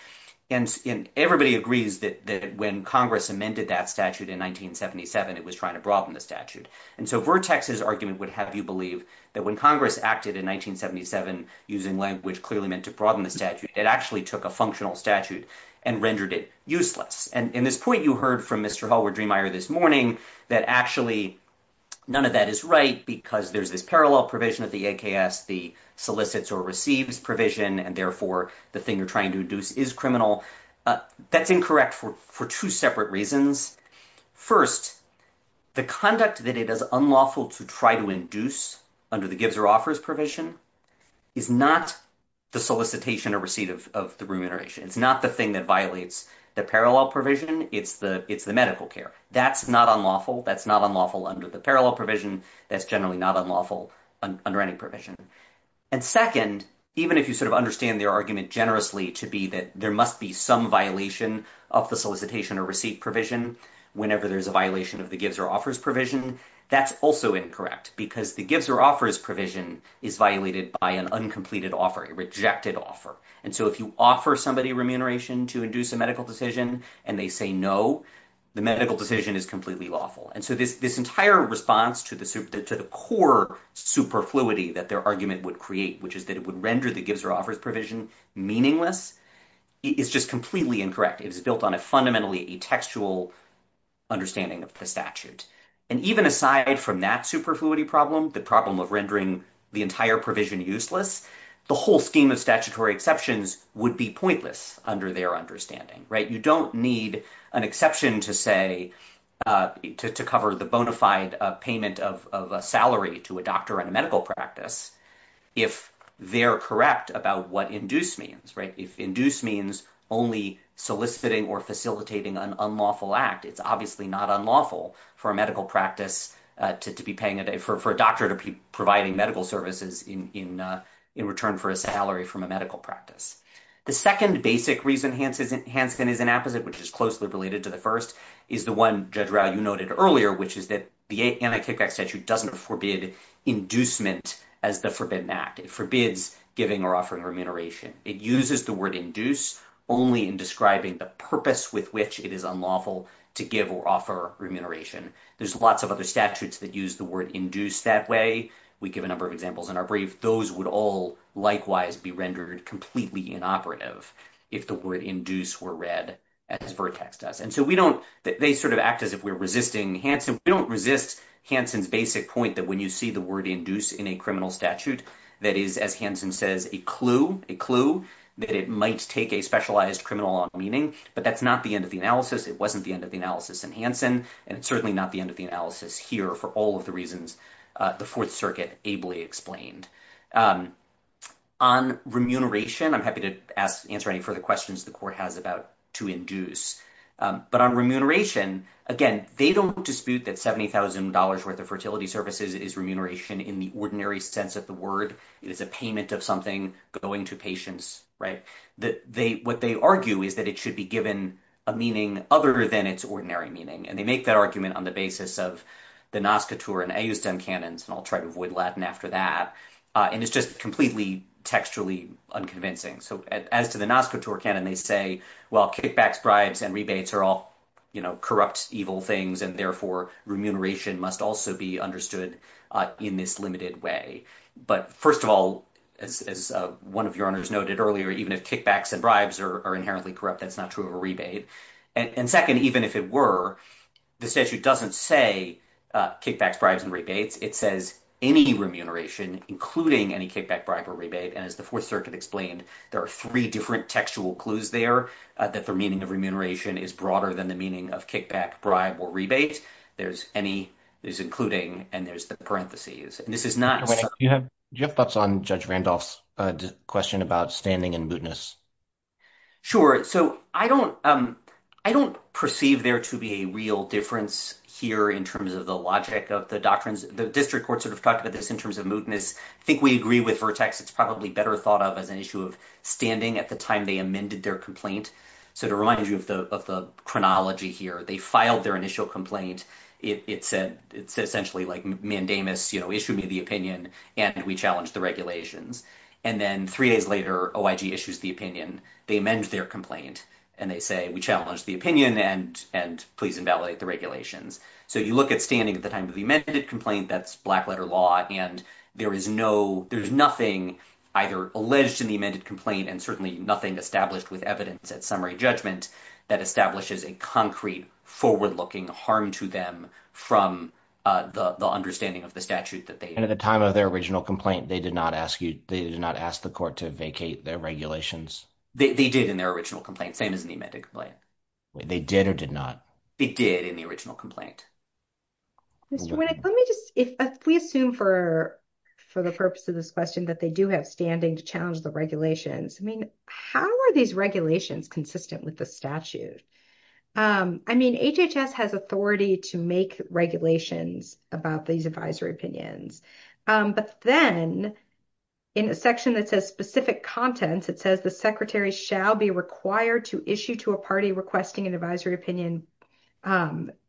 And everybody agrees that when Congress amended that statute in 1977, it was trying to broaden the statute. And so Vertex's argument would have you believe that when Congress acted in 1977 using language clearly meant to broaden the statute, it actually took a functional statute and rendered it useless. And in this point, you heard from Mr. Hallward-Dremeier this morning that actually none of that is right because there's this parallel provision of the AKS. The solicits or receives provision and therefore the thing you're trying to induce is criminal. That's incorrect for two separate reasons. First, the conduct that it is unlawful to try to induce under the gives or offers provision is not the solicitation or receipt of the remuneration. It's not the thing that violates the parallel provision. It's the medical care. That's not unlawful. That's not unlawful under the parallel provision. That's generally not unlawful under any provision. And second, even if you sort of understand their argument generously to be that there must be some violation of the solicitation or receipt provision whenever there's a violation of the gives or offers provision, that's also incorrect because the gives or offers provision is violated by an uncompleted offer, a rejected offer. And so if you offer somebody remuneration to induce a medical decision and they say no, the medical decision is completely lawful. And so this entire response to the core superfluity that their argument would create, which is that it would render the gives or offers provision meaningless, is just completely incorrect. It is built on a fundamentally textual understanding of the statute. And even aside from that superfluity problem, the problem of rendering the entire provision useless, the whole scheme of statutory exceptions would be pointless under their understanding. You don't need an exception to cover the bona fide payment of a salary to a doctor in a medical practice if they're correct about what induce means. Induce means only soliciting or facilitating an unlawful act. It's obviously not unlawful for a medical practice to be paying for a doctor to be providing medical services in return for a salary from a medical practice. The second basic reason Hansen is inappropriate, which is closely related to the first, is the one Judge Rausch noted earlier, which is that the anti-takeback statute doesn't forbid inducement as the forbidden act. It forbids giving or offering remuneration. It uses the word induce only in describing the purpose with which it is unlawful to give or offer remuneration. There's lots of other statutes that use the word induce that way. We give a number of examples in our brief. Those would all likewise be rendered completely inoperative if the word induce were read as vertex does. And so we don't – they sort of act as if we're resisting Hansen. We don't resist Hansen's basic point that when you see the word induce in a criminal statute, that is, as Hansen says, a clue, a clue that it might take a specialized criminal on meaning. But that's not the end of the analysis. It wasn't the end of the analysis in Hansen, and it's certainly not the end of the analysis here for all of the reasons. The Fourth Circuit ably explained. On remuneration, I'm happy to answer any further questions the court has about to induce. But on remuneration, again, they don't dispute that $70,000 worth of fertility services is remuneration in the ordinary sense of the word. It's a payment of something going to patients, right? What they argue is that it should be given a meaning other than its ordinary meaning. And they make that argument on the basis of the Nazca tour and Ayusten canons, and I'll try to avoid Latin after that. And it's just completely textually unconvincing. So as to the Nazca tour canon, they say, well, kickbacks, bribes, and rebates are all corrupt, evil things, and therefore remuneration must also be understood in this limited way. But first of all, as one of your honors noted earlier, even if kickbacks and bribes are inherently corrupt, that's not true of a rebate. And second, even if it were, this statute doesn't say kickbacks, bribes, and rebates. It says any remuneration, including any kickback, bribe, or rebate. And as the Fourth Circuit explained, there are three different textual clues there that the meaning of remuneration is broader than the meaning of kickback, bribe, or rebate. There's any, there's including, and there's the parentheses. And this is not— Do you have thoughts on Judge Randolph's question about stamming and mootness? Sure. So I don't, I don't perceive there to be a real difference here in terms of the logic of the doctrines. The district court sort of talked about this in terms of mootness. I think we agree with Vertex. It's probably better thought of as an issue of standing at the time they amended their complaint. So to remind you of the chronology here, they filed their initial complaint. It's essentially like mandamus, you know, issue me the opinion and we challenge the regulations. And then three days later, OIG issues the opinion. They amend their complaint and they say we challenge the opinion and please invalidate the regulations. So you look at standing at the time of the amended complaint, that's black letter law, and there is no, there's nothing either alleged in the amended complaint and certainly nothing established with evidence at summary judgment that establishes a concrete forward-looking harm to them from the understanding of the statute that they— And at the time of their original complaint, they did not ask you, they did not ask the court to vacate their regulations? They did in their original complaint, same as in the amended complaint. They did or did not? They did in the original complaint. Let me just, if we assume for the purpose of this question that they do have standing to challenge the regulations, I mean, how are these regulations consistent with the statute? I mean, HHS has authority to make regulations about these advisory opinions. But then in a section that says specific contents, it says the secretary shall be required to issue to a party requesting an advisory opinion,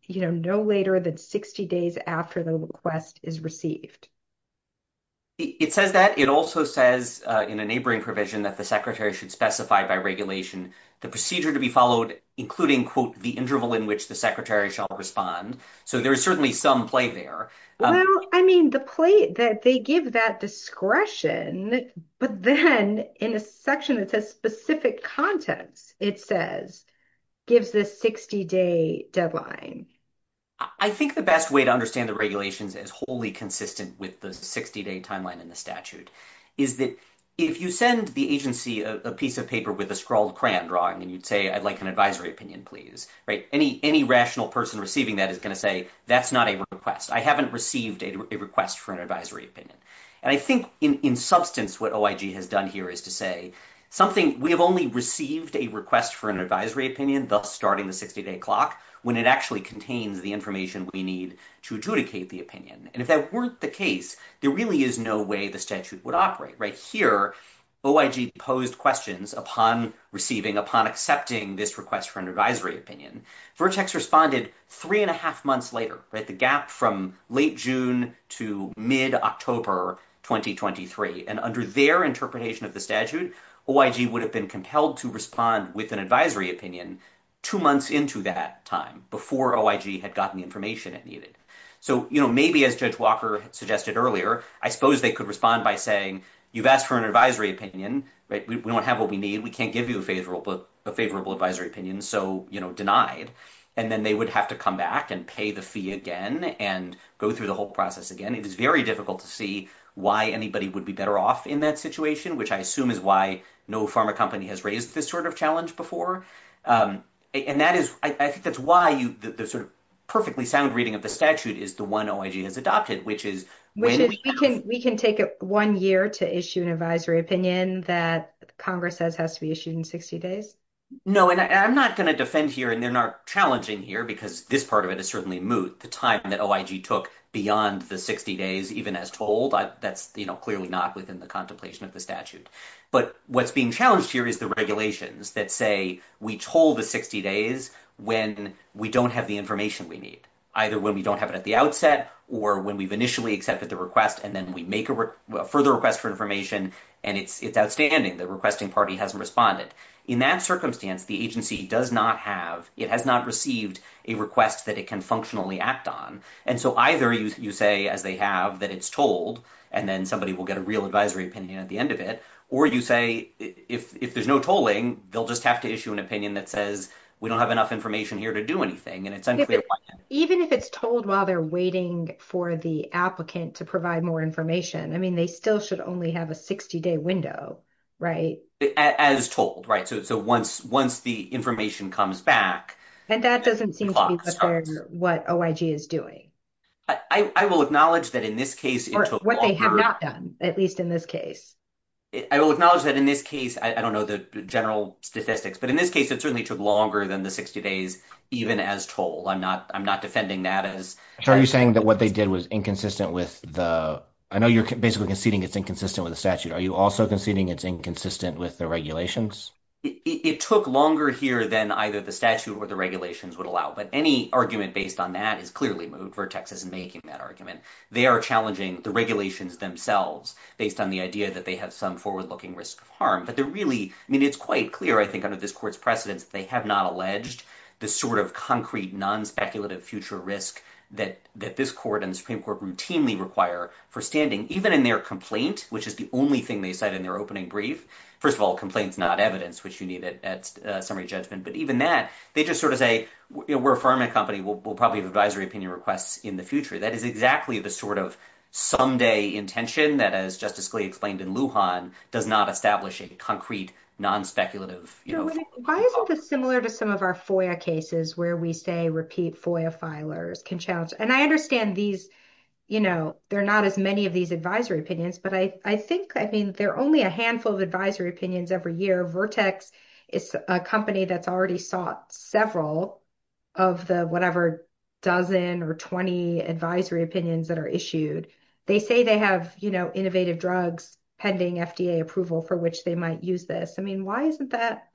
you know, no later than 60 days after the request is received. It says that. It also says in a neighboring provision that the secretary should specify by regulation the procedure to be followed, including, quote, the interval in which the secretary shall respond. So there is certainly some play there. Well, I mean, the play that they give that discretion, but then in a section that says specific contents, it says give the 60-day deadline. I think the best way to understand the regulations is wholly consistent with the 60-day timeline in the statute, is that if you send the agency a piece of paper with a scrawled crayon drawing and you say I'd like an advisory opinion, please, any rational person receiving that is going to say that's not a request. I haven't received a request for an advisory opinion. And I think in substance what OIG has done here is to say something, we have only received a request for an advisory opinion, thus starting the 60-day clock, when it actually contains the information we need to adjudicate the opinion. And if that weren't the case, there really is no way the statute would operate. Right here, OIG posed questions upon receiving, upon accepting this request for an advisory opinion. Vertex responded three and a half months later, right, the gap from late June to mid-October 2023. And under their interpretation of the statute, OIG would have been compelled to respond with an advisory opinion two months into that time, before OIG had gotten the information it needed. So, you know, maybe as Judge Walker suggested earlier, I suppose they could respond by saying, you've asked for an advisory opinion, right, we don't have what we need, we can't give you a favorable advisory opinion, so, you know, denied. And then they would have to come back and pay the fee again and go through the whole process again. And it is very difficult to see why anybody would be better off in that situation, which I assume is why no pharma company has raised this sort of challenge before. And that is, I think that's why the sort of perfectly sound reading of the statute is the one OIG has adopted, which is- We can take one year to issue an advisory opinion that Congress says has to be issued in 60 days? No, and I'm not going to defend here, and they're not challenging here, because this part of it is certainly moot, the time that OIG took beyond the 60 days, even as told. That's, you know, clearly not within the contemplation of the statute. But what's being challenged here is the regulations that say we told the 60 days when we don't have the information we need, either when we don't have it at the outset or when we've initially accepted the request and then we make a further request for information and it's outstanding, the requesting party hasn't responded. In that circumstance, the agency does not have, it has not received a request that it can functionally act on. And so either you say, as they have, that it's told, and then somebody will get a real advisory opinion at the end of it, or you say, if there's no tolling, they'll just have to issue an opinion that says we don't have enough information here to do anything. And it's unclear- Even if it's told while they're waiting for the applicant to provide more information. I mean, they still should only have a 60-day window, right? As told, right. So once the information comes back- And that doesn't seem to be what OIG is doing. I will acknowledge that in this case- Or what they have not done, at least in this case. I will acknowledge that in this case, I don't know the general statistics, but in this case it certainly took longer than the 60 days, even as told. I'm not defending that as- So are you saying that what they did was inconsistent with the, I know you're basically conceding it's inconsistent with the statute. Are you also conceding it's inconsistent with the regulations? It took longer here than either the statute or the regulations would allow. But any argument based on that is clearly- Vertex is making that argument. They are challenging the regulations themselves based on the idea that they have some forward-looking risk of harm. But they're really- I mean, it's quite clear, I think, under this court's precedence, they have not alleged the sort of concrete, non-speculative future risk that this court and the Supreme Court routinely require for standing, even in their complaint, which is the only thing they said in their opening brief. First of all, complaint is not evidence, which you need at summary judgment. But even that, they just sort of say, we're a farming company. We'll probably have advisory opinion requests in the future. That is exactly the sort of someday intention that, as Justice Glee explained in Lujan, does not establish a concrete, non-speculative future. Why is all this similar to some of our FOIA cases where we say repeat FOIA filers can challenge-and I understand these, you know, there are not as many of these advisory opinions. But I think, I mean, there are only a handful of advisory opinions every year. Vertex is a company that's already sought several of the whatever dozen or 20 advisory opinions that are issued. They say they have, you know, innovative drugs pending FDA approval for which they might use this. I mean, why isn't that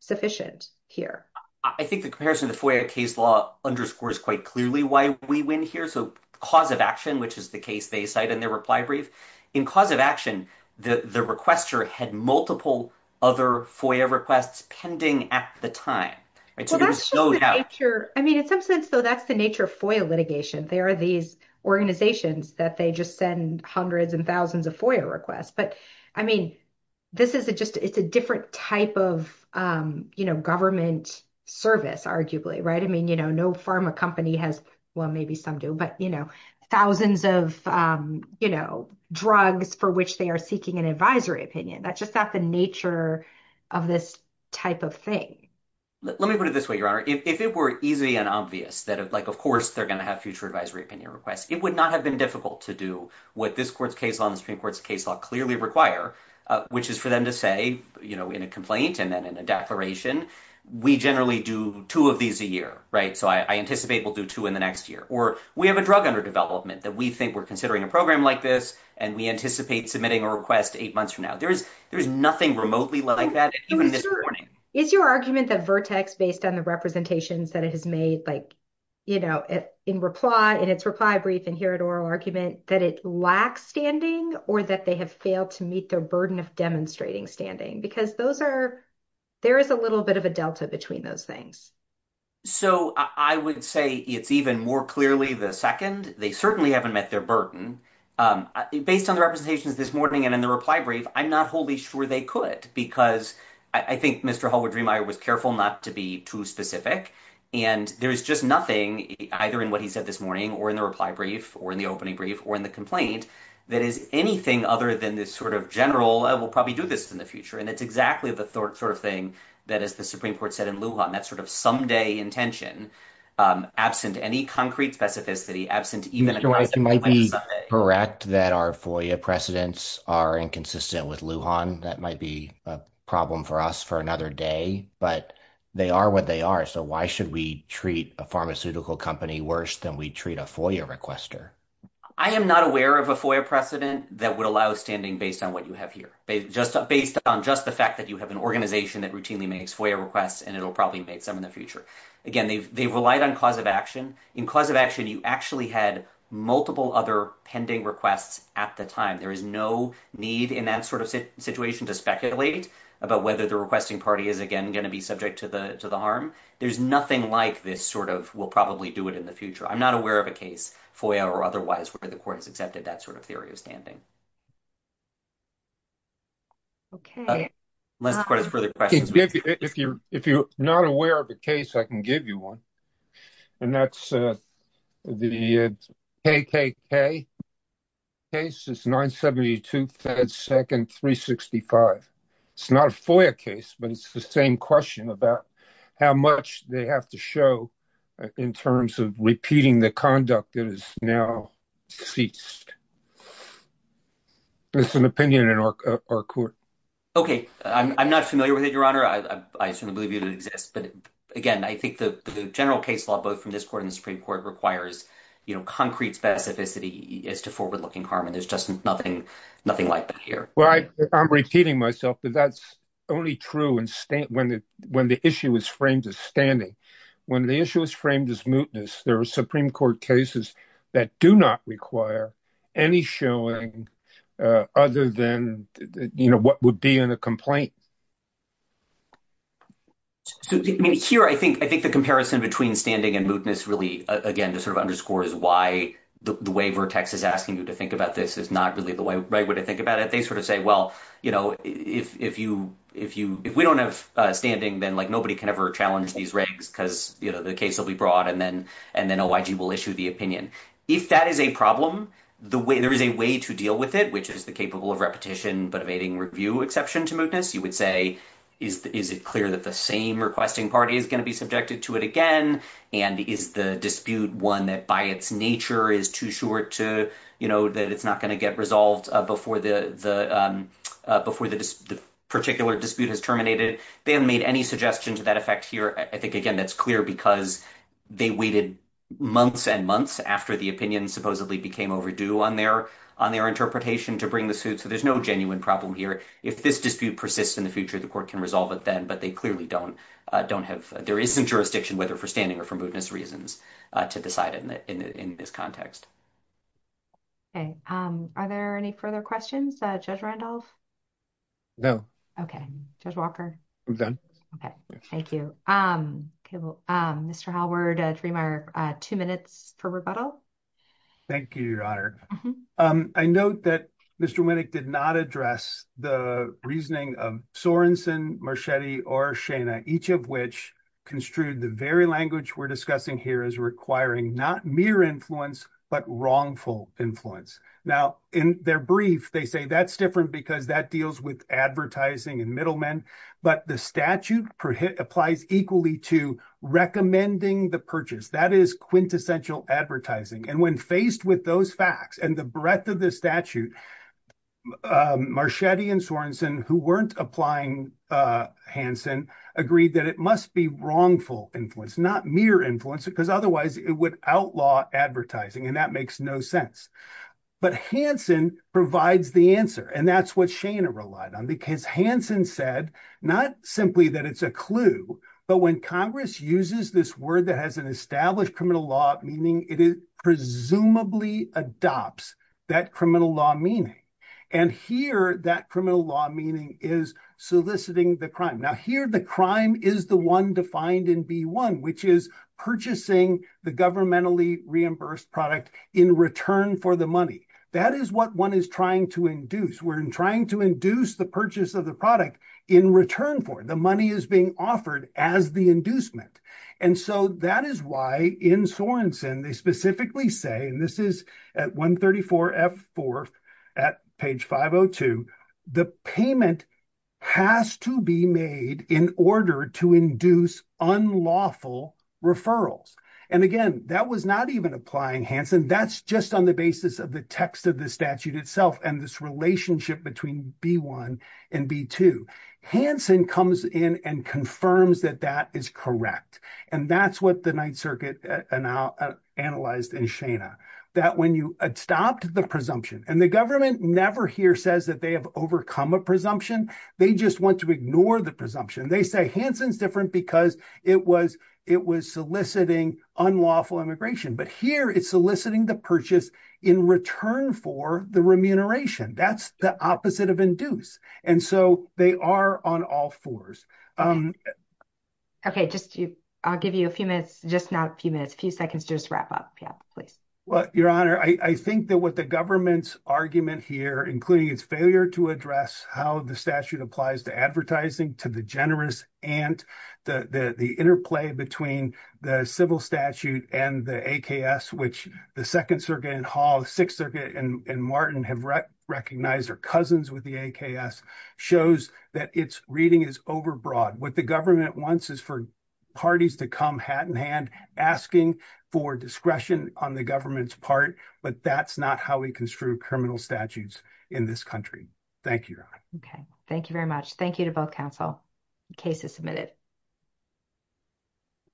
sufficient here? I think the comparison to FOIA case law underscores quite clearly why we win here. So cause of action, which is the case they cite in their reply brief. In cause of action, the requester had multiple other FOIA requests pending at the time. I mean, in some sense, so that's the nature of FOIA litigation. There are these organizations that they just send hundreds and thousands of FOIA requests. But, I mean, this is just, it's a different type of, you know, government service, arguably, right? I mean, you know, no pharma company has, well, maybe some do, but, you know, thousands of, you know, drugs for which they are seeking an advisory opinion. That's just not the nature of this type of thing. Let me put it this way, Your Honor. If it were easy and obvious that, like, of course they're going to have future advisory opinion requests, it would not have been difficult to do what this court's case law and the Supreme Court's case law clearly require, which is for them to say, you know, in a complaint and then in a declaration, we generally do two of these a year, right? So I anticipate we'll do two in the next year. Or we have a drug under development that we think we're considering a program like this, and we anticipate submitting a request eight months from now. There is nothing remotely like that, even this morning. Is your argument that Vertex, based on the representations that it has made, like, you know, in reply, in its reply brief, and here at oral argument, that it lacks standing or that they have failed to meet their burden of demonstrating standing? Because those are, there is a little bit of a delta between those things. So I would say, if even more clearly the second, they certainly haven't met their burden. Based on the representations this morning and in the reply brief, I'm not wholly sure they could, because I think Mr. Holwood-Riemeyer was careful not to be too specific. And there's just nothing, either in what he said this morning or in the reply brief or in the opening brief or in the complaint, that is anything other than this sort of general, we'll probably do this in the future. And it's exactly the sort of thing that, as the Supreme Court said in Lujan, that sort of someday intention. Absent any concrete specificity, absent even a... Mr. Reich, you might be correct that our FOIA precedents are inconsistent with Lujan. That might be a problem for us for another day. But they are what they are. So why should we treat a pharmaceutical company worse than we treat a FOIA requester? I am not aware of a FOIA precedent that would allow standing based on what you have here. Based on just the fact that you have an organization that routinely makes FOIA requests, and it will probably make them in the future. Again, they've relied on cause of action. In cause of action, you actually had multiple other pending requests at the time. There is no need in that sort of situation to speculate about whether the requesting party is, again, going to be subject to the harm. There's nothing like this sort of we'll probably do it in the future. I'm not aware of a case, FOIA or otherwise, where the court has accepted that sort of theory of standing. Okay. If you're not aware of a case, I can give you one. And that's the KKK case. It's 972 FedSec and 365. It's not a FOIA case, but it's the same question about how much they have to show in terms of repeating the conduct that is now ceased. That's an opinion in our court. Okay. I'm not familiar with it, Your Honor. But, again, I think the general case law, both from this court and the Supreme Court, requires concrete specificity as to forward-looking harm, and there's just nothing like it here. Well, I'm repeating myself, but that's only true when the issue is framed as standing. When the issue is framed as mootness, there are Supreme Court cases that do not require any showing other than what would be in a complaint. So, here, I think the comparison between standing and mootness really, again, just sort of underscores why the waiver text is asking you to think about this is not really the right way to think about it. They sort of say, well, you know, if we don't have standing, then, like, nobody can ever challenge these records because, you know, the case will be brought, and then OIG will issue the opinion. If that is a problem, there is a way to deal with it, which is the capable of repetition, but evading review exception to mootness. You would say, is it clear that the same requesting party is going to be subjected to it again? And is the dispute one that, by its nature, is too short to, you know, that it's not going to get resolved before the particular dispute is terminated? They haven't made any suggestion to that effect here. I think, again, that's clear because they waited months and months after the opinion supposedly became overdue on their interpretation to bring the suit, so there's no genuine problem here. If this dispute persists in the future, the court can resolve it then, but they clearly don't have – there isn't jurisdiction, whether for standing or for mootness reasons, to decide in this context. Okay. Are there any further questions? Judge Randolph? No. Okay. Judge Walker? I'm done. Okay. Thank you. Mr. Hallward, I'll give you two minutes for rebuttal. Thank you, Your Honor. I note that Mr. Winnick did not address the reasoning of Sorenson, Marchetti, or Shana, each of which construed the very language we're discussing here as requiring not mere influence, but wrongful influence. Now, in their brief, they say that's different because that deals with advertising and middlemen, but the statute applies equally to recommending the purchase. That is quintessential advertising, and when faced with those facts and the breadth of the statute, Marchetti and Sorenson, who weren't applying Hansen, agreed that it must be wrongful influence, not mere influence, because otherwise it would outlaw advertising, and that makes no sense. But Hansen provides the answer, and that's what Shana relied on, because Hansen said not simply that it's a clue, but when Congress uses this word that has an established criminal law meaning, it presumably adopts that criminal law meaning. And here, that criminal law meaning is soliciting the crime. Now, here, the crime is the one defined in B-1, which is purchasing the governmentally reimbursed product in return for the money. That is what one is trying to induce. We're trying to induce the purchase of the product in return for it. The money is being offered as the inducement. And so that is why in Sorenson, they specifically say, and this is at 134F4 at page 502, the payment has to be made in order to induce unlawful referrals. And again, that was not even applying Hansen. That's just on the basis of the text of the statute itself and this relationship between B-1 and B-2. Hansen comes in and confirms that that is correct. And that's what the Ninth Circuit analyzed in Shana, that when you stopped the presumption, and the government never here says that they have overcome a presumption. They just want to ignore the presumption. They say Hansen's different because it was soliciting unlawful immigration. But here, it's soliciting the purchase in return for the remuneration. That's the opposite of induce. And so they are on all fours. Okay, I'll give you a few minutes, just now a few minutes, a few seconds just to wrap up. Your Honor, I think that what the government's argument here, including its failure to address how the statute applies to advertising, to the generous and the interplay between the civil statute and the AKS, which the Second Circuit and Hall, Sixth Circuit and Martin have recognized are cousins with the AKS, shows that its reading is overbroad. What the government wants is for parties to come hat in hand, asking for discretion on the government's part, but that's not how we construe criminal statutes in this country. Thank you, Your Honor. Okay, thank you very much. Thank you to both counsel. The case is submitted.